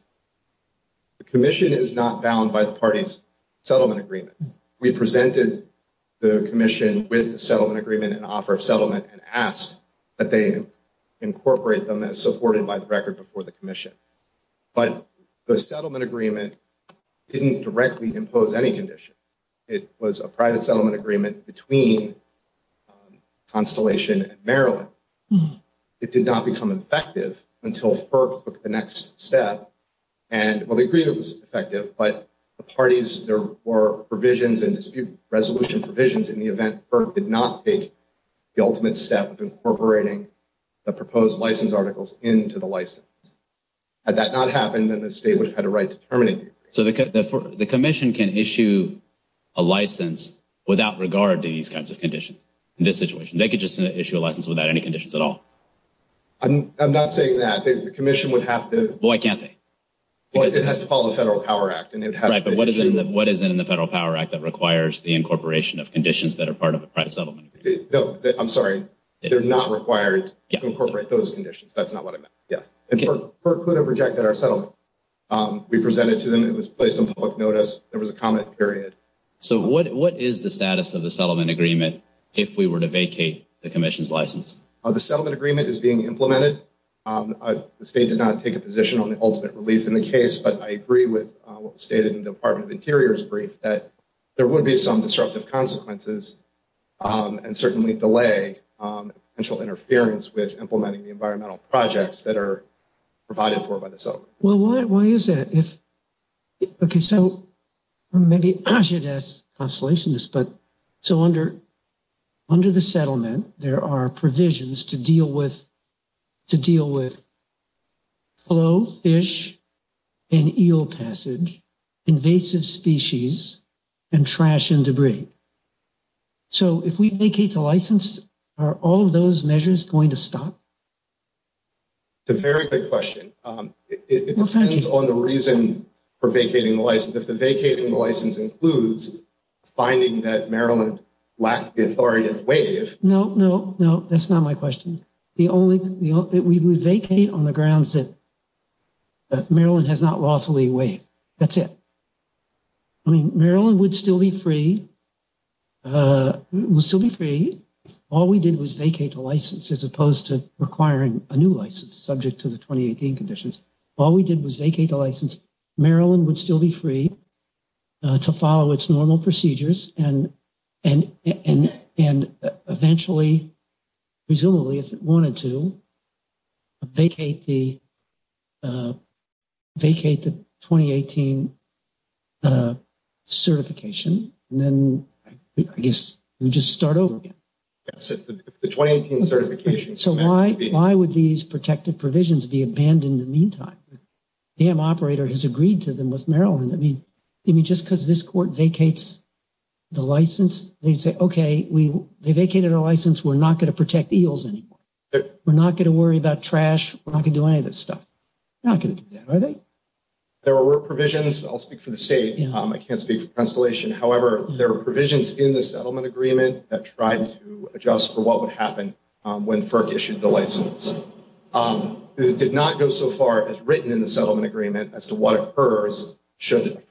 The Commission is not bound by the party's settlement agreement. We presented the Commission with a settlement agreement and offer of settlement and asked that they incorporate them as supported by the record before the Commission. But the settlement agreement didn't directly impose any conditions. It was a private settlement agreement between consolation and Maryland. It did not become effective until FERC took the next step. And, well, they agreed it was effective, but the parties, there were provisions and dispute resolution provisions in the event FERC did not take the ultimate step of incorporating the proposed license articles into the license. Had that not happened, then the state would have had a right to terminate the agreement. So the Commission can issue a license without regard to these kinds of conditions in this situation? They could just issue a license without any conditions at all? I'm not saying that. The Commission would have to. Well, I can say. Well, it has to follow the Federal Power Act. Right, but what is in the Federal Power Act that requires the incorporation of conditions that are part of a private settlement? No, I'm sorry. They're not required to incorporate those conditions. That's not what I meant. And FERC could have rejected our settlement. We presented to them. It was placed on public notice. There was a comment period. So what is the status of the settlement agreement if we were to vacate the Commission's license? The settlement agreement is being implemented. The state did not take a position on the ultimate relief in the case. But I agree with what was stated in the Department of the Interior's brief that there would be some disruptive consequences and certainly delay potential interference with implementing the environmental projects that are provided for by the settlement. Well, why is that? So under the settlement, there are provisions to deal with flow, fish, and eel passage, invasive species, and trash and debris. So if we vacate the license, are all those measures going to stop? It's a very good question. It depends on the reason for vacating the license. If the vacating the license includes finding that Maryland lacks the authority to waive. No, no, no. That's not my question. We vacate on the grounds that Maryland has not lawfully waived. That's it. Maryland would still be free. All we did was vacate the license as opposed to requiring a new license subject to the 2018 conditions. All we did was vacate the license. Maryland would still be free to follow its normal procedures and eventually, presumably, if it wanted to, vacate the 2018 certification. I guess we just start over again. So why would these protective provisions be abandoned in the meantime? The dam operator has agreed to them with Maryland. I mean, just because this court vacates the license, they say, okay, they vacated our license, we're not going to protect eels anymore. We're not going to worry about trash. We're not going to do any of this stuff. There were provisions. I'll speak for the state. I can't speak for Constellation. However, there were provisions in the settlement agreement that tried to adjust for what would happen when FERC issued the license. It did not go so far as written in the settlement agreement as to what occurs should the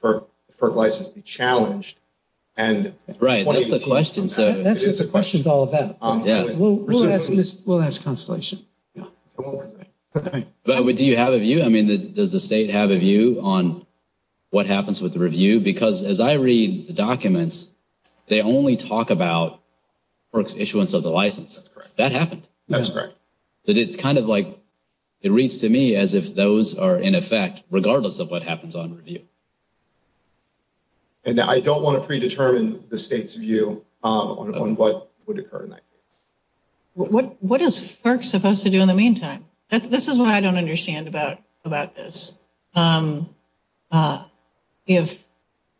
FERC license be challenged. Right. That's just a question to all of them. We'll ask Constellation. But do you have a view? I mean, does the state have a view on what happens with the review? Because as I read the documents, they only talk about FERC's issuance of the license. That happens. That's correct. It's kind of like, it reads to me as if those are in effect regardless of what happens on review. And I don't want to predetermine the state's view on what would occur. What is FERC supposed to do in the meantime? This is what I don't understand about this. If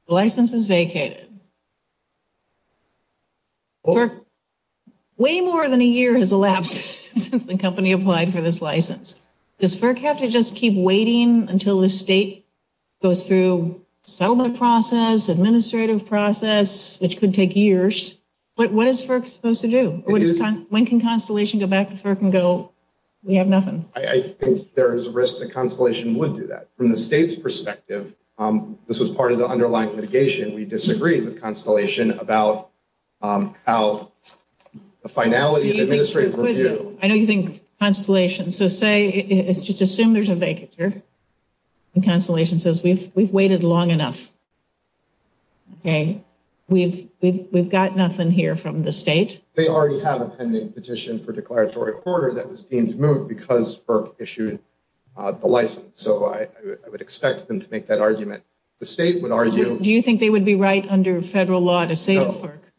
the license is vacated, way more than a year has elapsed since the company applied for this license. Does FERC have to just keep waiting until the state goes through settlement process, administrative process, which could take years? But what is FERC supposed to do? When can Constellation go back to FERC and go, we have nothing? I think there is a risk that Constellation would do that. From the state's perspective, this was part of the underlying litigation. We disagree with Constellation about how the finality of the administrative review. I know you think Constellation, so say, just assume there's a vacature, and Constellation says, we've waited long enough. We've got nothing here from the state. They already have a pending petition for declaratory order that this needs to move because FERC issued the license. So I would expect them to make that argument. The state would argue... Do you think they would be right under federal law to say...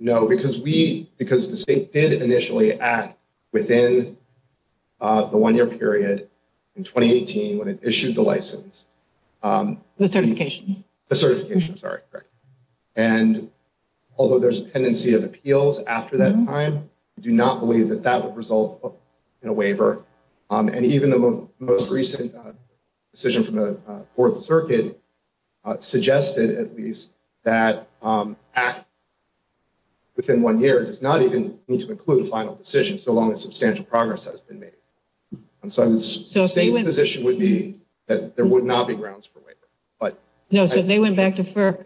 No, because the state did initially act within the one-year period in 2018 when it issued the license. The certification. The certification, sorry. And although there's a tendency of appeals after that time, I do not believe that that would result in a waiver. And even the most recent decision from the Fourth Circuit suggested, at least, that act within one year does not even need to include a final decision so long as substantial progress has been made. So the state's position would be that there would not be grounds for waiver. No, so if they went back to FERC,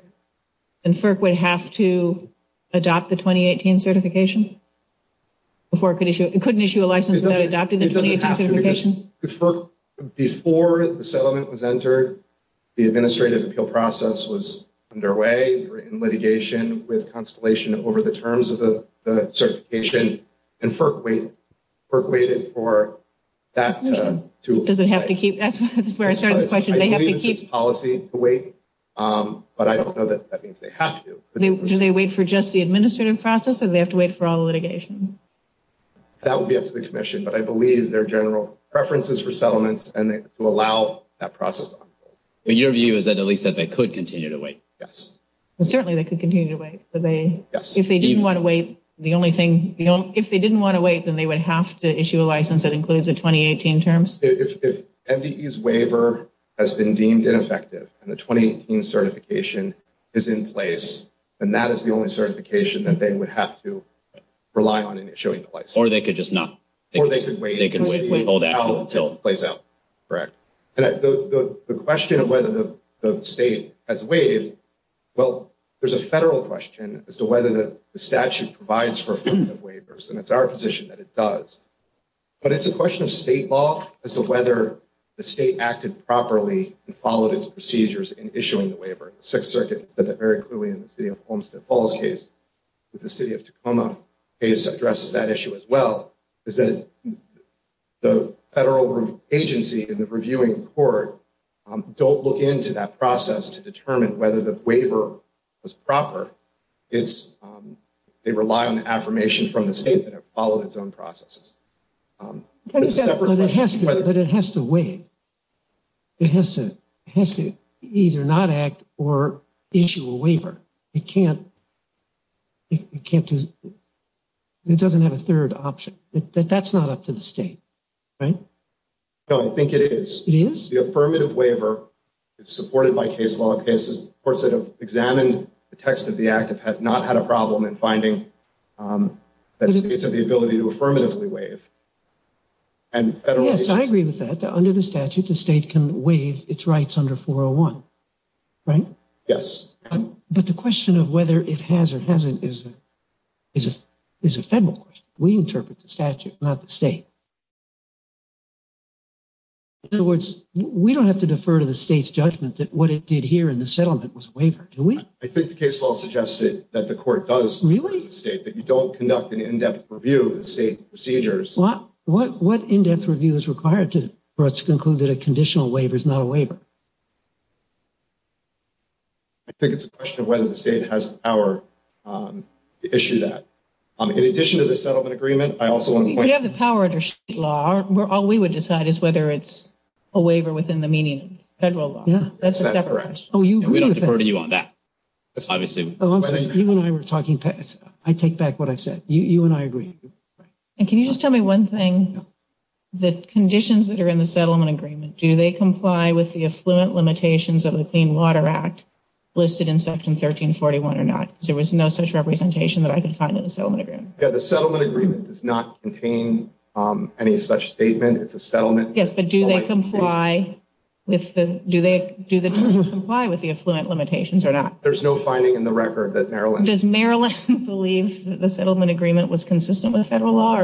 then FERC would have to adopt the 2018 certification? It couldn't issue a license without adopting the 2018 certification? Before the settlement was entered, the administrative appeal process was underway in litigation with Constellation over the terms of the certification, and FERC waited for that to apply. Does it have to keep... That's where I started the question. Do they have to keep... I believe it's a policy to wait, but I don't know that that means they have to. Do they wait for just the administrative process, or do they have to wait for all the litigation? That would be up to the commission, but I believe there are general preferences for settlements, and it will allow that process. And your view is that at least that they could continue to wait? Yes. Well, certainly they could continue to wait. Yes. If they didn't want to wait, the only thing... If they didn't want to wait, then they would have to issue a license that includes the 2018 terms? If MDE's waiver has been deemed ineffective, and the 2018 certification is in place, then that is the only certification that they would have to rely on in issuing the license. Or they could just not... Or they could wait. They could wait until it plays out. Correct. The question of whether the state has waived, well, there's a federal question as to whether the statute provides for affirmative waivers, and it's our position that it does. But it's a question of state law as to whether the state acted properly and followed its procedures in issuing the waiver. The Sixth Circuit said that very clearly in the city of Homestead Falls case. The city of Tacoma case addresses that issue as well. The federal agency in the reviewing court don't look into that process to determine whether the waiver was proper. They rely on affirmation from the state that followed its own processes. But it has to waive. It has to either not act or issue a waiver. It can't. It doesn't have a third option. That's not up to the state. Right? No, I think it is. It is? The affirmative waiver is supported by case law cases, of course, that have examined the text of the act and have not had a problem in finding that states have the ability to affirmatively waive. Yes, I agree with that. Under the statute, the state can waive its rights under 401. Right? Yes. But the question of whether it has or hasn't is a federal question. We interpret the statute, not the state. In other words, we don't have to defer to the state's judgment that what it did here in the settlement was a waiver, do we? I think the case law suggested that the court does waive the state, but you don't conduct an in-depth review of the state's procedures. What in-depth review is required for us to conclude that a conditional waiver is not a waiver? I think it's a question of whether the state has the power to issue that. In addition to the settlement agreement, I also want to point out- We have the power under state law. All we would decide is whether it's a waiver within the meaning of federal law. Yes. That's a separate question. That's correct. And we defer to you on that. I take back what I said. You and I agree. And can you just tell me one thing? The conditions that are in the settlement agreement, do they comply with the affluent limitations of the Clean Water Act listed in section 1341 or not? Because there was no such representation that I could find in the settlement agreement. Yeah, the settlement agreement does not contain any such statement. It's a settlement. Yes, but do they comply with the affluent limitations or not? There's no finding in the record that Maryland- Maryland does not believe that the settlement agreement violates federal law.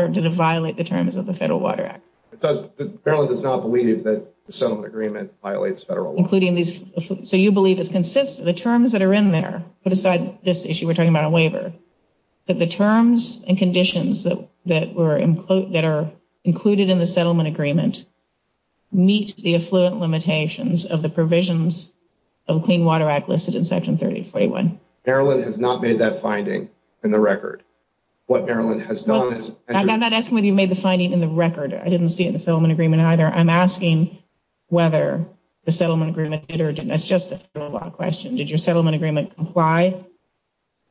Maryland has not made that finding in the record. What Maryland has done is- I'm not asking whether you made the finding in the record. I didn't see it in the settlement agreement either. I'm asking whether the settlement agreement did or didn't. It's just a federal law question. Did your settlement agreement comply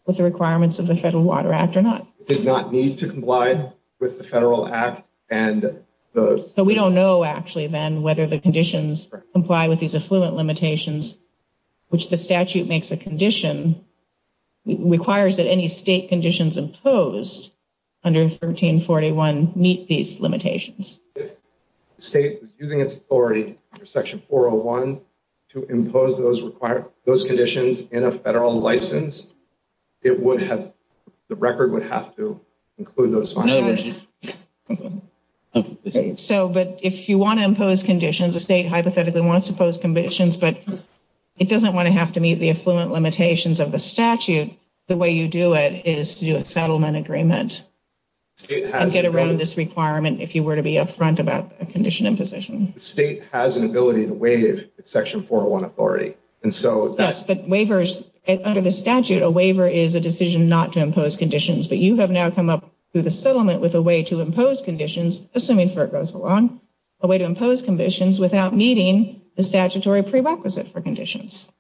with the requirements of the Federal Water Act or not? It did not need to comply with the federal act and those. So we don't know actually then whether the conditions comply with these affluent limitations, which the statute makes a condition, requires that any state conditions imposed under 1341 meet these limitations. If the state was using its authority under section 401 to impose those conditions in a federal license, it would have- the record would have to include those conditions. Okay. So, but if you want to impose conditions, the state hypothetically wants to impose conditions, but it doesn't want to have to meet the affluent limitations of the statute. The way you do it is to do a settlement agreement and get around this requirement if you were to be up front about a condition imposition. The state has an ability to waive section 401 authority. Yes, but waivers- under the statute, a waiver is a decision not to impose conditions. But you have now come up with a settlement with a way to impose conditions, assuming FERC goes along, a way to impose conditions without meeting the statutory prerequisite for conditions.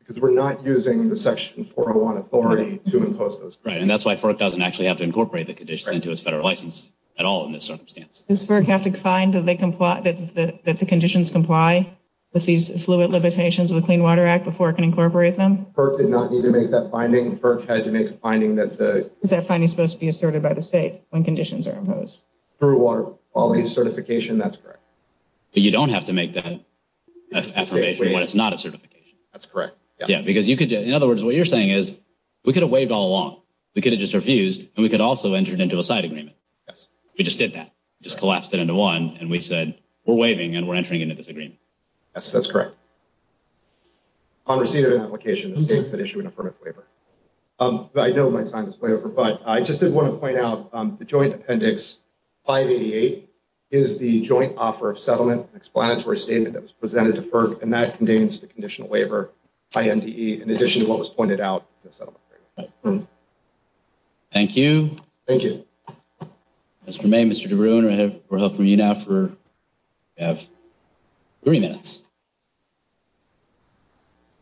Because we're not using the section 401 authority to impose those conditions. Right, and that's why FERC doesn't actually have to incorporate the conditions into its federal license at all in this circumstance. Does FERC have to find that they comply- that the conditions comply with these affluent limitations of the Clean Water Act before it can incorporate them? FERC did not need to make that finding. FERC has made the finding that the- Is that finding supposed to be asserted by the state when conditions are imposed? Through water quality certification, that's correct. But you don't have to make that affirmation when it's not a certification. That's correct. Yeah, because you could- in other words, what you're saying is, we could have waived all along. We could have just refused, and we could also have entered into a site agreement. Yes. We just did that. Just collapsed it into one, and we said, we're waiving, and we're entering into this agreement. Yes, that's correct. I'm receiving an application that states that issue an affirmative waiver. But I don't want to sign this waiver. But I just did want to point out, the joint appendix 588 is the joint offer of settlement and explanatory statement that was presented to FERC. And that contains the conditional waiver, INDE, in addition to what was pointed out in the settlement agreement. Thank you. Thank you. If I may, Mr. DeBruin, I have your help from you now for three minutes.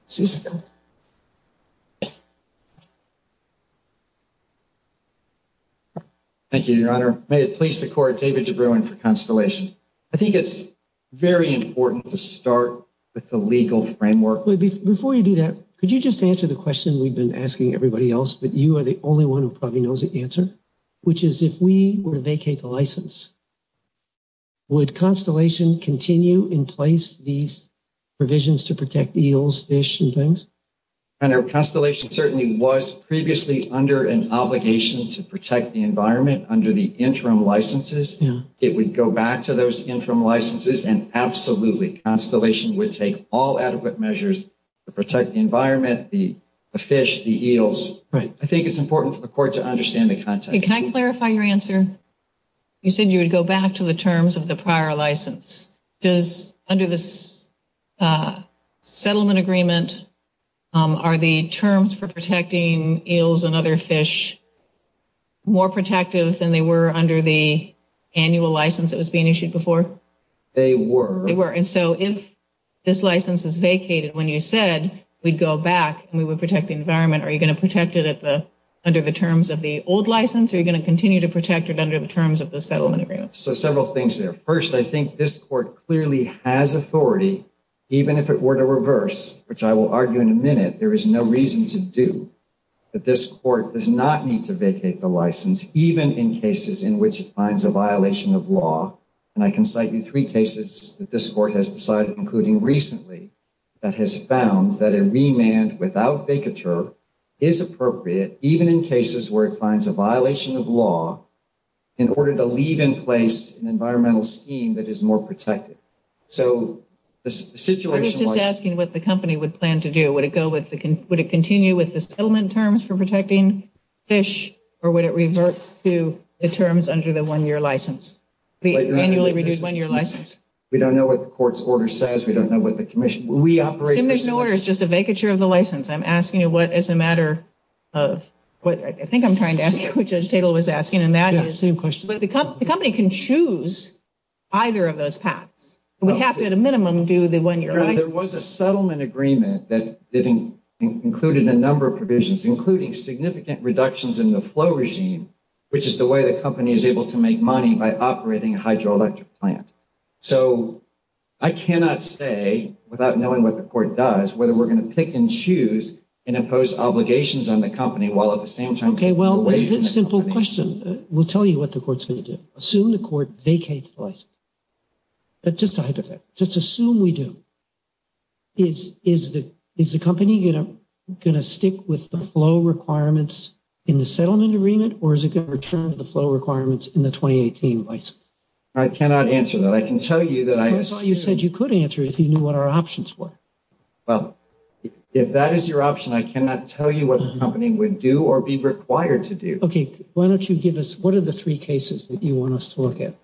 Thank you, Your Honor. May it please the Court, David DeBruin for consolation. I think it's very important to start with the legal framework. Before you do that, could you just answer the question we've been asking everybody else, but you are the only one who probably knows the answer, which is, if we were to vacate the license, would Constellation continue in place these provisions to protect eels, fish, and things? Your Honor, Constellation certainly was previously under an obligation to protect the environment under the interim licenses. It would go back to those interim licenses. And absolutely, Constellation would take all adequate measures to protect the environment, the fish, the eels. Right. I think it's important for the Court to understand the context. Can I clarify your answer? You said you would go back to the terms of the prior license. Under the settlement agreement, are the terms for protecting eels and other fish more protective than they were under the annual license that was being issued before? They were. They were. And so if this license is vacated, when you said we'd go back and we would protect the environment, are you going to protect it under the terms of the old license, or are you going to continue to protect it under the terms of the settlement agreement? So several things there. First, I think this Court clearly has authority, even if it were to reverse, which I will argue in a minute. There is no reason to do. But this Court does not need to vacate the license, even in cases in which it finds a violation of law. And I can cite you three cases that this Court has decided, including recently, that has found that a remand without vacature is appropriate, even in cases where it finds a violation of law, in order to leave in place an environmental scheme that is more protective. So the situation was— I'm just asking what the company would plan to do. Would it continue with the settlement terms for protecting fish, or would it revert to the terms under the one-year license? The annually reviewed one-year license? We don't know what the Court's order says. We don't know what the Commission— The Commission order is just a vacature of the license. I'm asking you what, as a matter of—I think I'm trying to ask you what Judge Tatel was asking, and now I have the same question. But the company can choose either of those paths. It would have to, at a minimum, do the one-year license. There was a settlement agreement that included a number of provisions, including significant reductions in the flow regime, which is the way the company is able to make money by operating a hydroelectric plant. So I cannot say, without knowing what the Court does, whether we're going to pick and choose and impose obligations on the company while at the same time— Okay, well, a very simple question. We'll tell you what the Court's going to do. Assume the Court vacates the license. That's just a hypothetical. Just assume we do. Is the company going to stick with the flow requirements in the settlement agreement, or is it going to return to the flow requirements in the 2018 license? I cannot answer that. I can tell you that I— That's why you said you could answer if you knew what our options were. Well, if that is your option, I cannot tell you what the company would do or be required to do. Okay, why don't you give us—what are the three cases that you want us to look at?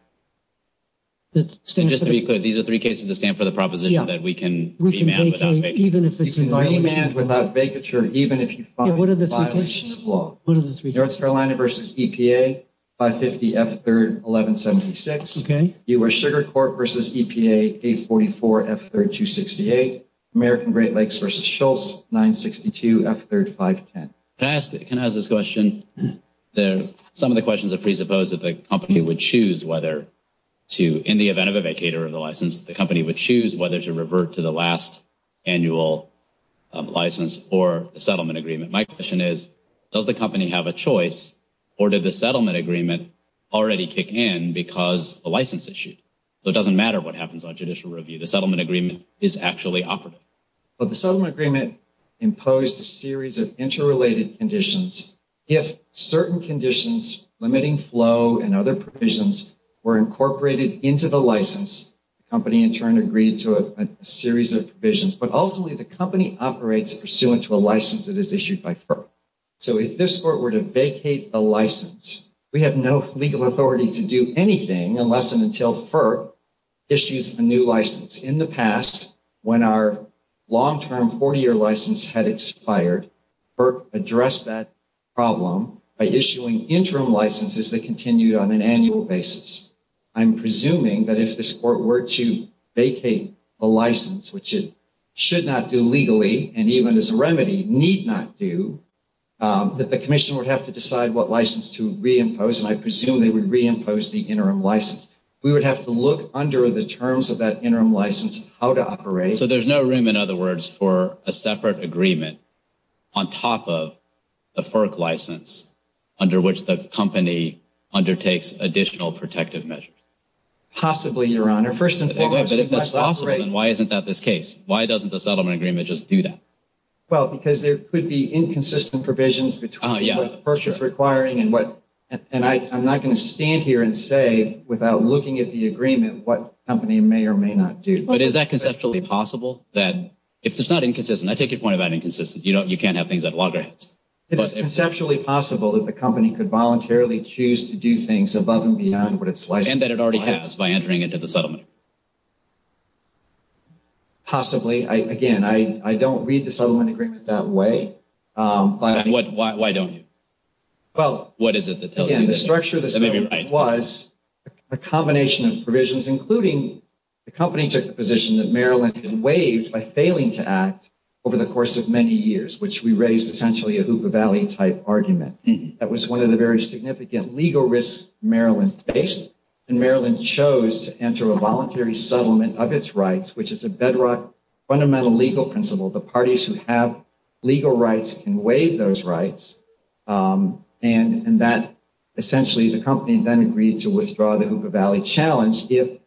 And just to be clear, these are three cases that stand for the proposition that we can— Yeah, we can vacate, even if it's— You can remand without vacature, even if you— Yeah, what are the three cases? What are the three cases? North Carolina v. EPA, 550 F-3rd 1176. Okay. U.S. Sugar Corp. v. EPA, 844 F-3rd 268. American Great Lakes v. Schultz, 962 F-3rd 510. Can I ask—can I ask this question? Some of the questions are presupposed that the company would choose whether to, in the event of a vacater of the license, the company would choose whether to revert to the last annual license or the settlement agreement. My question is, does the company have a choice, or did the settlement agreement already kick in because the license issued? So it doesn't matter what happens on judicial review. The settlement agreement is actually operative. But the settlement agreement imposed a series of interrelated conditions. If certain conditions, limiting flow and other provisions, were incorporated into the license, the company in turn agreed to a series of provisions. But ultimately, the company operates pursuant to a license that is issued by FERC. So if this court were to vacate the license, we have no legal authority to do anything unless and until FERC issues a new license. In the past, when our long-term 40-year license had expired, FERC addressed that problem by issuing interim licenses that continued on an annual basis. I'm presuming that if this court were to vacate the license, which it should not do legally, and even as a remedy, need not do, that the commission would have to decide what license to reimpose, and I presume they would reimpose the interim license. We would have to look under the terms of that interim license how to operate. So there's no room, in other words, for a separate agreement on top of the FERC license under which the company undertakes additional protective measures? Possibly, Your Honor. First and foremost, that's the operation. But if that's possible, then why isn't that the case? Why doesn't the settlement agreement just do that? Well, because there could be inconsistent provisions between what FERC is requiring and I'm not going to stand here and say, without looking at the agreement, what the company may or may not do. But is that conceptually possible? It's not inconsistent. I take your point about inconsistency. You can't have things at loggerheads. It's conceptually possible that the company could voluntarily choose to do things above and beyond what it's likely to do. And that it already has by entering into the settlement. Possibly. Again, I don't read the settlement agreement that way. Why don't you? Well, again, the structure of the settlement was a combination of provisions, including the company took the position that Maryland had been waived by failing to act over the course of many years, which we raised essentially a Hoopa Valley-type argument. That was one of the very significant legal risks Maryland faced. And Maryland chose to enter a voluntary settlement of its rights, which is a bedrock fundamental legal principle. The parties who have legal rights can waive those rights. And that essentially, the company then agreed to withdraw the Hoopa Valley challenge if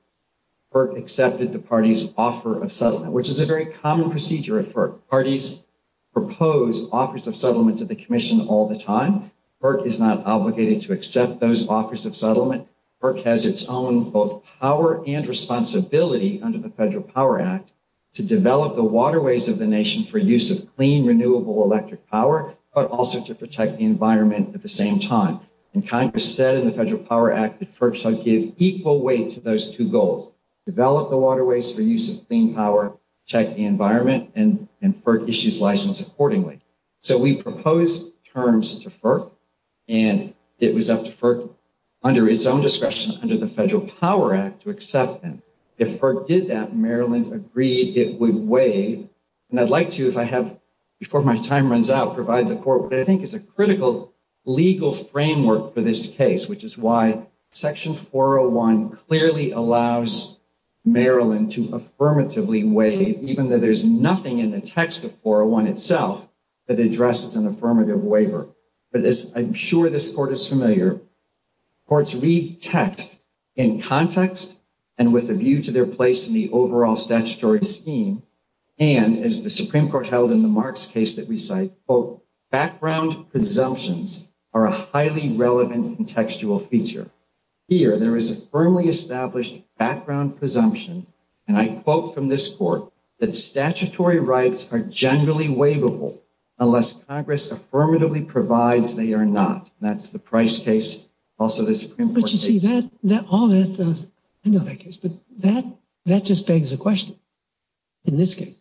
FERC accepted the party's offer of settlement, which is a very common procedure at FERC. Parties propose offers of settlement to the commission all the time. FERC is not obligated to accept those offers of settlement. FERC has its own both power and responsibility under the Federal Power Act to develop the waterways of the nation for use of clean, renewable electric power, but also to protect the environment at the same time. And Congress said in the Federal Power Act that FERC should give equal weight to those two goals. Develop the waterways for use of clean power, protect the environment, and FERC issues license accordingly. So we proposed terms to FERC, and it was up to FERC under its own discretion under the Federal Power Act to accept them. If FERC did that, Maryland agreed it would waive. And I'd like to, if I have, before my time runs out, provide the court, what I think is a critical legal framework for this case, which is why Section 401 clearly allows Maryland to affirmatively waive, even though there's nothing in the text of 401 itself that addresses an affirmative waiver. I'm sure this court is familiar. Courts read text in context and with a view to their place in the overall statutory scheme, and, as the Supreme Court held in the Marks case that we cite, quote, background presumptions are a highly relevant contextual feature. Here, there is a firmly established background presumption, and I quote from this court that statutory rights are generally waivable unless Congress affirmatively provides they are not. That's the Price case, also the Supreme Court case. But, you see, that, all that, that just begs the question in this case.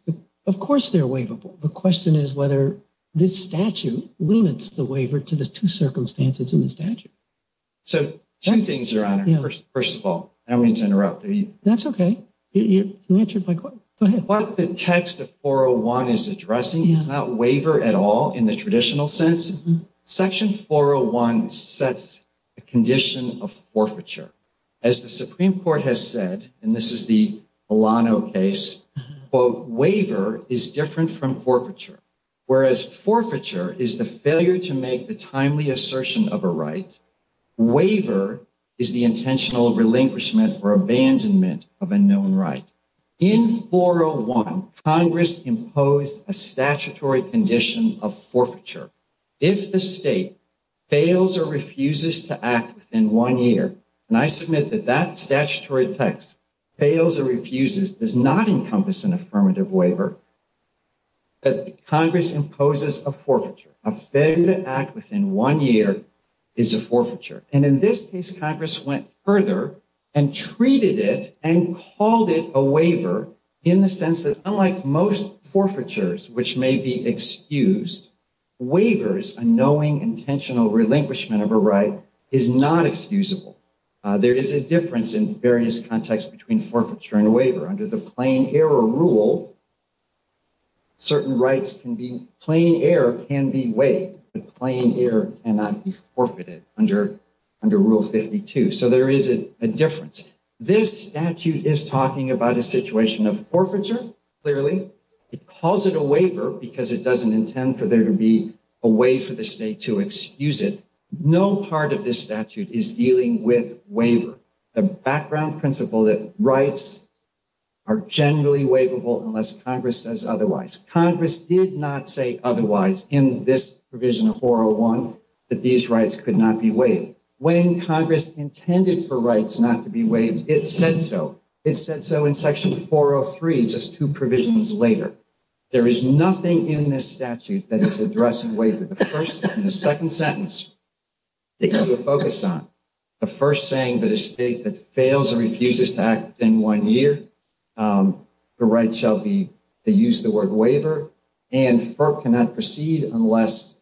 Of course they're waivable. The question is whether this statute limits the waiver to the two circumstances in the statute. So, two things, Your Honor. First of all, I don't mean to interrupt. That's okay. Go ahead. What the text of 401 is addressing is not waiver at all in the traditional sense. Section 401 sets a condition of forfeiture. As the Supreme Court has said, and this is the Milano case, quote, waiver is different from forfeiture. Whereas forfeiture is the failure to make the timely assertion of a right, waiver is the intentional relinquishment or abandonment of a known right. In 401, Congress imposed a statutory condition of forfeiture. If the state fails or refuses to act within one year, and I submit that that statutory text, fails or refuses, does not encompass an affirmative waiver, Congress imposes a forfeiture. A failure to act within one year is a forfeiture. And in this case, Congress went further and treated it and called it a waiver in the sense that, unlike most forfeitures, which may be excused, waivers, a knowing intentional relinquishment of a right, is not excusable. There is a difference in various contexts between forfeiture and waiver. Under the plain error rule, certain rights can be, plain error can be waived. The plain error cannot be forfeited under Rule 52. So there is a difference. This statute is talking about a situation of forfeiture, clearly. It calls it a waiver because it doesn't intend for there to be a way for the state to excuse it. No part of this statute is dealing with waiver. The background principle that rights are generally waivable unless Congress says otherwise. Congress did not say otherwise in this Provision 401 that these rights could not be waived. When Congress intended for rights not to be waived, it said so. It said so in Section 403, just two provisions later. There is nothing in this statute that is addressing waivers. In the second sentence, the issue to focus on, the first saying that a state that fails or refuses to act within one year, the right shall be to use the word waiver, and FERC cannot proceed unless.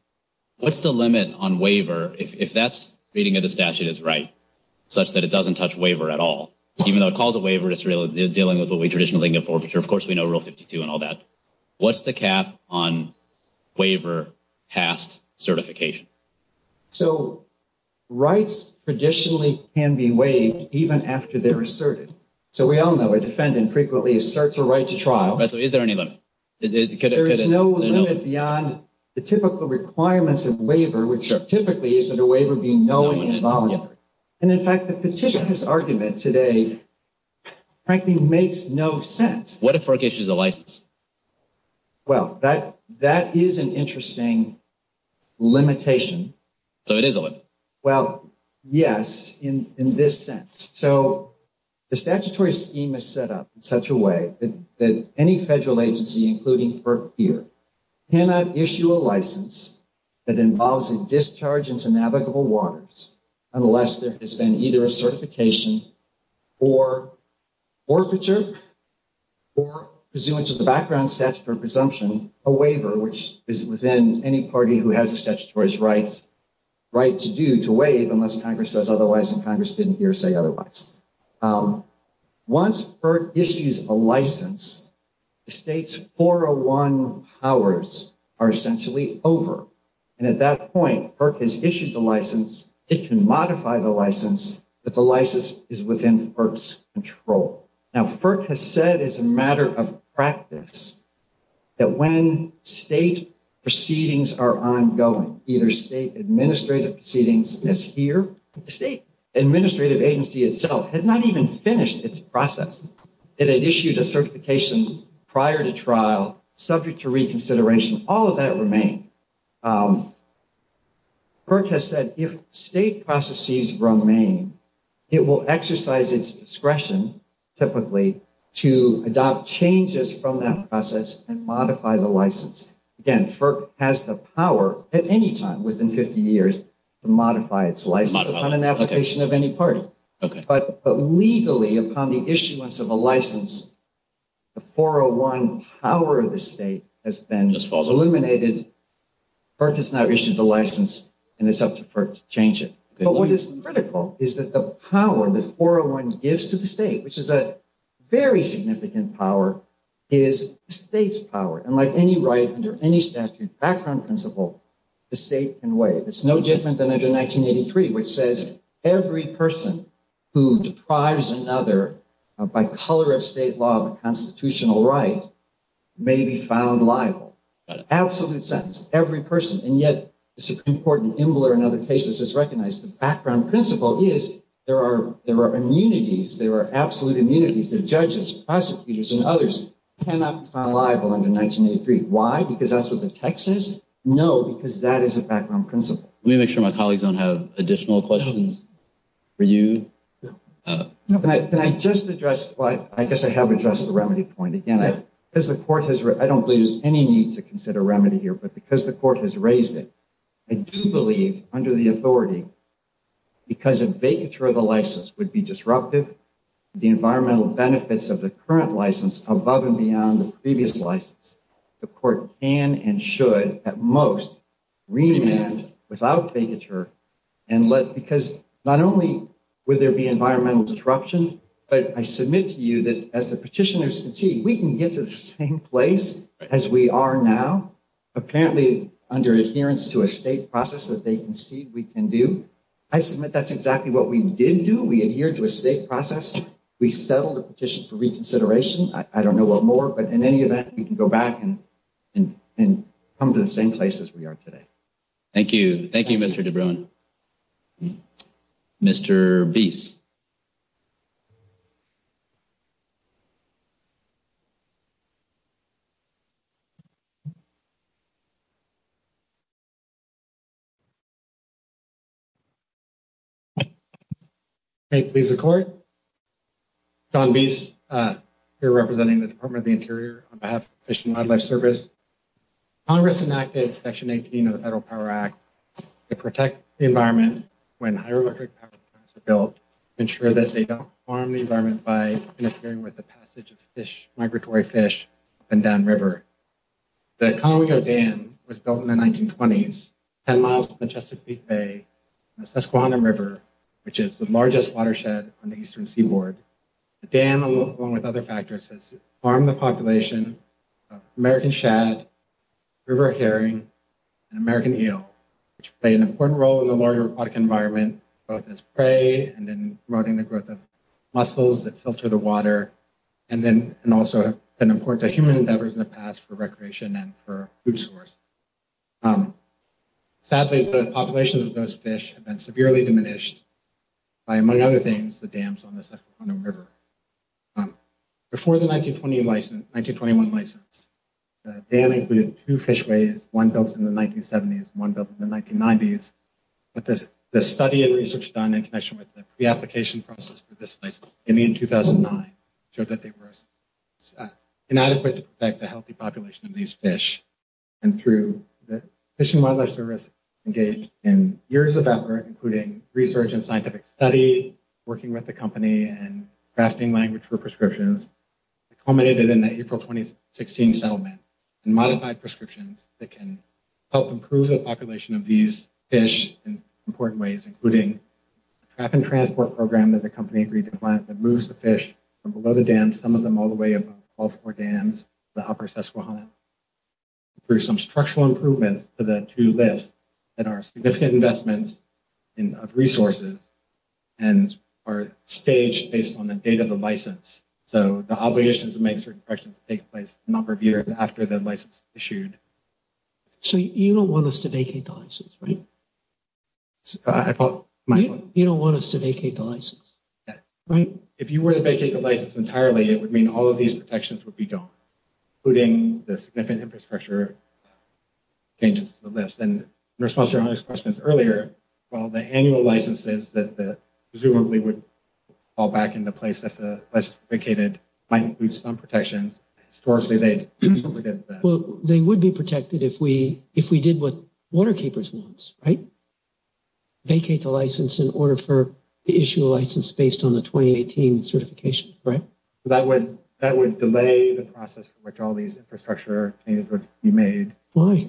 What's the limit on waiver, if that's reading into statute is right, such that it doesn't touch waiver at all? Even though it calls it waiver, it's dealing with what we traditionally get forfeiture. Of course, we know Rule 52 and all that. What's the cap on waiver past certification? So rights traditionally can be waived even after they're asserted. So we all know a defendant frequently asserts a right to trial. Is there any limit? There is no limit beyond the typical requirements of waiver, which typically is that a waiver be null and invalid. And in fact, the petitioner's argument today practically makes no sense. What if FERC issues a license? Well, that is an interesting limitation. So it is a limit? Well, yes, in this sense. So the statutory scheme is set up in such a way that any federal agency, including FERC here, cannot issue a license that involves a discharge into navigable waters unless there has been either a certification for forfeiture or, presuming to the background statutory presumption, a waiver, which is within any party who has a statutory right to do, to waive unless Congress says otherwise, and Congress didn't hear say otherwise. Once FERC issues a license, the state's 401 powers are essentially over. And at that point, FERC has issued the license. It can modify the license, but the license is within FERC's control. Now, FERC has said as a matter of practice that when state proceedings are ongoing, either state administrative proceedings as here, the state administrative agency itself has not even finished its process. It had issued a certification prior to trial, subject to reconsideration. All of that remained. FERC has said if state processes remain, it will exercise its discretion, typically, to adopt changes from that process and modify the license. Again, FERC has the power at any time within 50 years to modify its license on an application of any party. But legally, upon the issuance of a license, the 401 power of the state has been eliminated. FERC has now issued the license, and it's up to FERC to change it. But what is critical is that the power the 401 gives to the state, which is a very significant power, is the state's power. And like any right under any statutory background principle, the state can waive. It's no different than under 1983, which says every person who deprives another by color of state law of a constitutional right may be found liable. That's an absolute sentence. Every person. And yet, it's an important imbler in other cases that's recognized. The background principle is there are immunities. There are absolute immunities. The judges, prosecutors, and others cannot be found liable under 1983. Why? Because that's what the text is? No, because that is a background principle. Let me make sure my colleagues don't have additional questions for you. Can I just address what – I guess I have addressed the remedy point again. I don't believe there's any need to consider remedy here, but because the court has raised it, I do believe, under the authority, because a vacature of the license would be disruptive to the environmental benefits of the current license above and beyond the previous license, the court can and should, at most, remand without vacature and let – because not only would there be environmental disruption, but I submit to you that as a petitioner, we can get to the same place as we are now, apparently under adherence to a state process, as they concede we can do. I submit that's exactly what we did do. We adhered to a state process. We settled the petition for reconsideration. I don't know what more, but in any event, you can go back and come to the same place as we are today. Thank you. Thank you, Mr. DeBrun. Mr. Bies? Thank you, Mr. Court. John Bies here representing the Department of the Interior on behalf of Fish and Wildlife Service. Congress enacted Section 18 of the Federal Power Act to protect the environment when hydroelectric power plants are built, to ensure that they don't harm the environment by interfering with the passage of fish, migratory fish, up and down rivers. The Columbia Dam was built in the 1920s, 10 miles from the Chesapeake Bay, in the Susquehanna River, which is the largest watershed on the eastern seaboard. The dam, along with other factors, has harmed the population of American shad, river herring, and American eel, which play an important role in the water and aquatic environment, both as prey and in promoting the growth of mussels that filter the water, and also have been important to human endeavors in the past for recreation and for food source. Sadly, the population of those fish has been severely diminished by, among other things, the dams on the Susquehanna River. Before the 1921 license, the dam included two fishways, one built in the 1970s and one built in the 1990s, but the study and research done in connection with the application process for this place in 2009 showed that there was inadequate to protect the healthy population of these fish, and through the Fish and Wildlife Service engaged in years of effort, including research and scientific study, working with the company, and drafting language for prescriptions, it culminated in the April 2016 settlement in modified prescriptions that can help improve the population of these fish in important ways, including a trap and transport program that the company agreed to plant that moves the fish from below the dam, some of them all the way above the dams, the upper Susquehanna, through some structural improvements to the two lifts that are significant investments of resources and are staged based on the date of the license. So the obligation to make certain prescriptions takes place a number of years after the license is issued. So you don't want us to vacate the license, right? I apologize. You don't want us to vacate the license, right? If you were to vacate the license entirely, it would mean all of these protections would be gone, including the significant infrastructure changes to the lifts. And in response to Ernest's questions earlier, well, the annual licenses that presumably would fall back into place if the license was vacated might include some protections. Historically, people forget that. Well, they would be protected if we did what Waterkeepers wants, right? So you would not vacate the license in order for the issue of license based on the 2018 certification, right? That would delay the process for which all these infrastructure changes would be made. Why?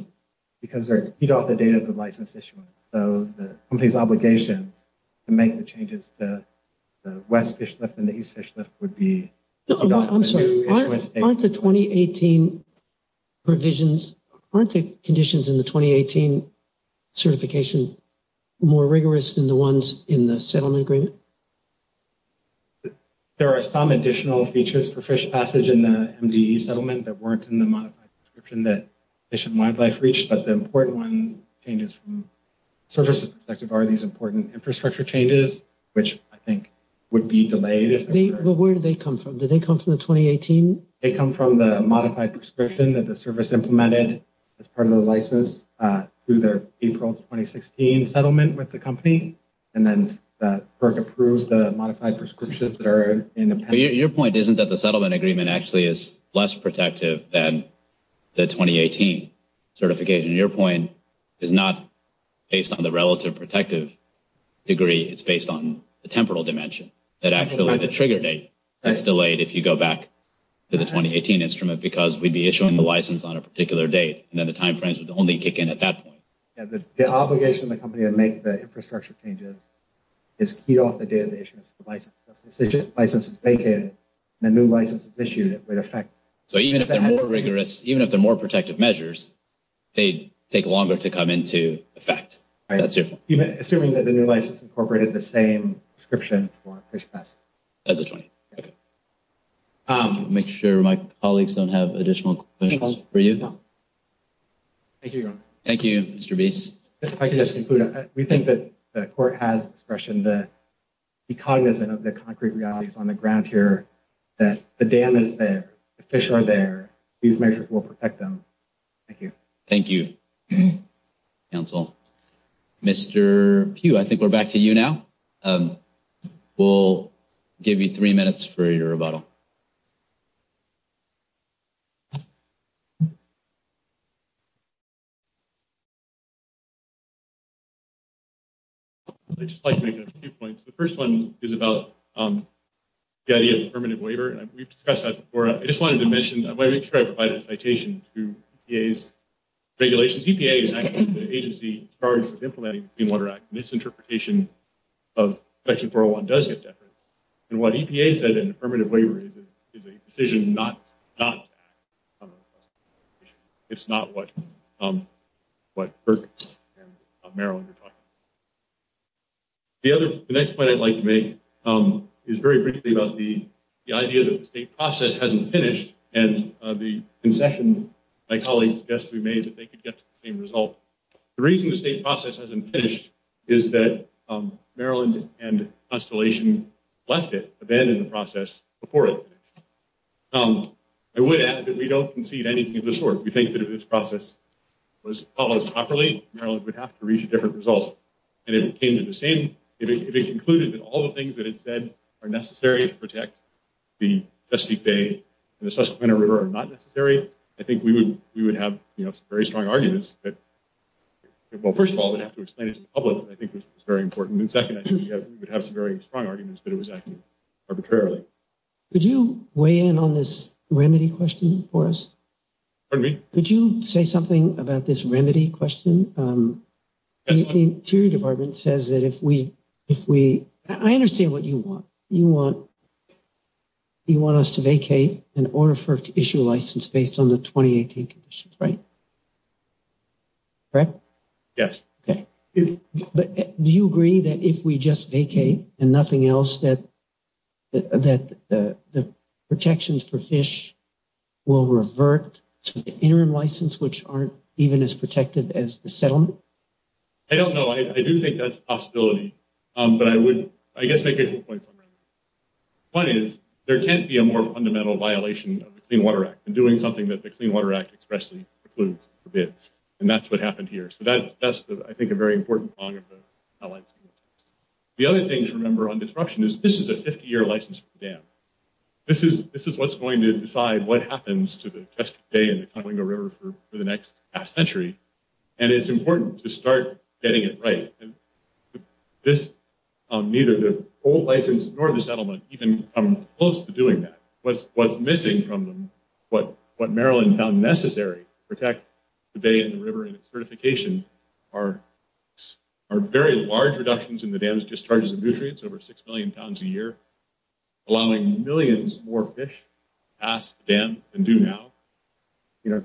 Because you don't have the date of the license issued. So the company's obligation to make the changes to the west fish lift and the east fish lift would be... I'm sorry. Aren't the 2018 provisions, aren't the conditions in the 2018 certification more rigorous than the ones in the settlement agreement? There are some additional features for fish passage in the MVE settlement that weren't in the modification description that they should modify for each, but the important one changes from services perspective are these important infrastructure changes, which I think would be delayed. Well, where did they come from? Did they come from the 2018? They come from the modified prescription that the service implemented as part of the license through their April 2016 settlement with the company, and then FERC approves the modified prescriptions that are in the patent. Your point isn't that the settlement agreement actually is less protective than the 2018 certification. Your point is not based on the relative protective degree. It's based on the temporal dimension. The trigger date is delayed if you go back to the 2018 instrument because we'd be issuing the license on a particular date, and then the time frames would only kick in at that point. The obligation of the company to make the infrastructure changes is keyed off the day of the issuance of the license. If the license is vacant and a new license is issued, it would affect... So even if they're more rigorous, even if they're more protective measures, they'd take longer to come into effect. Assuming that the new license incorporated the same prescription for first class. I'll make sure my colleagues don't have additional questions for you. Thank you, Ron. Thank you, Mr. B. If I can just conclude, we think that the court has expression that the cognizant of the concrete realities on the ground here, that the damage there, the fish are there, these measures will protect them. Thank you. Thank you, counsel. Mr. Pugh, I think we're back to you now. We'll give you three minutes for your rebuttal. I'd just like to make a few points. The first one is about the idea of permanent waiver, and we've discussed that before. I just wanted to mention, I'm going to try to provide a citation to EPA's regulations. This is the charge of implementing the Clean Water Act. Misinterpretation of Section 401 does get deferred. And what EPA said in the permanent waiver is a decision not... It's not what... The next point I'd like to make is very briefly about the idea that the state process hasn't finished, and the concession my colleagues suggested to me is that they could get the same result. The reason the state process hasn't finished is that Maryland and Constellation left it, abandoned the process, and supported it. I would add that we don't concede anything of the sort. We think that if this process was followed properly, Maryland would have to reach a different result. And if it came to the same... If it concluded that all the things that it said are necessary to protect the Chesapeake Bay and the Susquehanna River are not necessary, I think we would have very strong arguments that... Well, first of all, we'd have to explain it to the public. I think this is very important. And second, I think we'd have some very strong arguments that it was acted arbitrarily. Could you weigh in on this remedy question for us? Pardon me? Could you say something about this remedy question? The Interior Department says that if we... I understand what you want. You want... You want us to vacate an order for issue license based on the 2018 conditions, right? Correct? Yes. Do you agree that if we just vacate and nothing else, that the protections for fish will revert to the interim license, which aren't even as protective as the settlement? I don't know. I do think that's a possibility. But I would... I guess I could give you a point on that. One is, there can't be a more fundamental violation of the Clean Water Act than doing something that the Clean Water Act expressly precludes or bids. And that's what happened here. So that's, I think, a very important point. The other thing to remember on disruption is this is a 50-year license to the dam. This is what's going to decide what happens to the Chester Bay and the Conewingo River for the next half century. And it's important to start getting it right. This... Neither the old license nor the settlement even come close to doing that. What's missing from what Maryland found necessary to protect the bay and the river and its certification are very large reductions in the dam's discharges of nutrients, over 6 million pounds a year, allowing millions more fish past the dam than do now.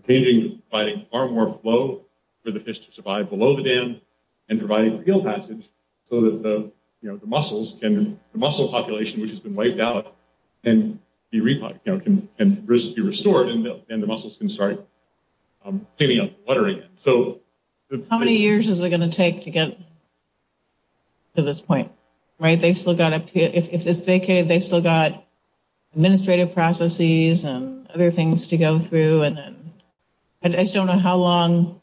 Paving by far more flow for the fish to survive below the dam and providing field passage so that the mussels population, which has been wiped out, can be restored and the mussels can start getting up and fluttering. How many years is it going to take to get to this point? If it's vacated, they've still got administrative processes and other things to go through. I just don't know how long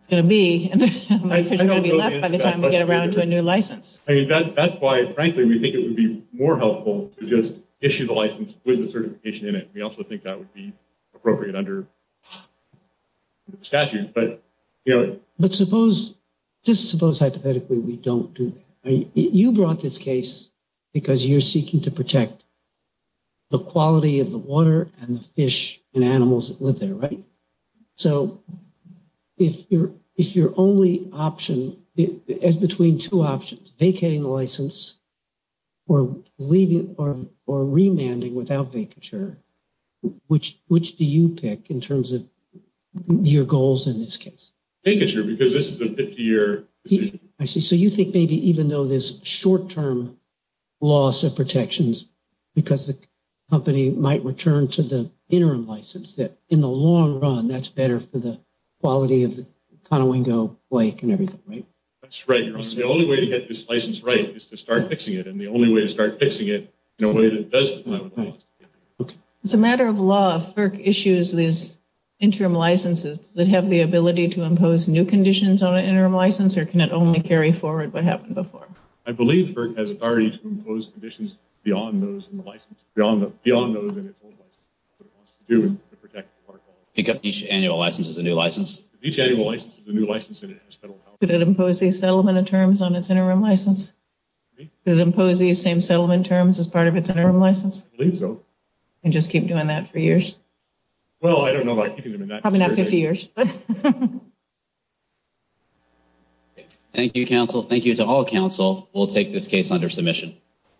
it's going to be. There's going to be less by the time we get around to a new license. I mean, that's why, frankly, we think it would be more helpful to just issue the license with the certification in it. We also think that would be appropriate under the statute, but... But suppose, just suppose hypothetically we don't do that. You brought this case because you're seeking to protect the quality of the water and the fish and animals that live there, right? So if your only option, between two options, vacating the license or remanding without vacature, which do you pick in terms of your goals in this case? Vacature, because this is a 50-year... I see. So you think maybe even though there's short-term loss of protections because the company might return to the interim license, that in the long run, that's better for the quality of the Conowingo Lake and everything, right? That's right. The only way to get this license right is to start fixing it, and the only way to start fixing it is in a way that doesn't... As a matter of law, FERC issues these interim licenses. Does it have the ability to impose new conditions on an interim license or can it only carry forward what happened before? I believe FERC has authority to impose conditions beyond those in the license, beyond those in its own license to protect the water quality. Each annual license is a new license? Each annual license is a new license and it has federal powers. Does it impose these settlement terms on its interim license? Excuse me? Does it impose these same settlement terms as part of its interim license? I believe so. And just keep doing that for years? Well, I don't know about keeping them in that... Probably not for a few years. Thank you, counsel. Thank you to all counsel. We'll take this case under submission.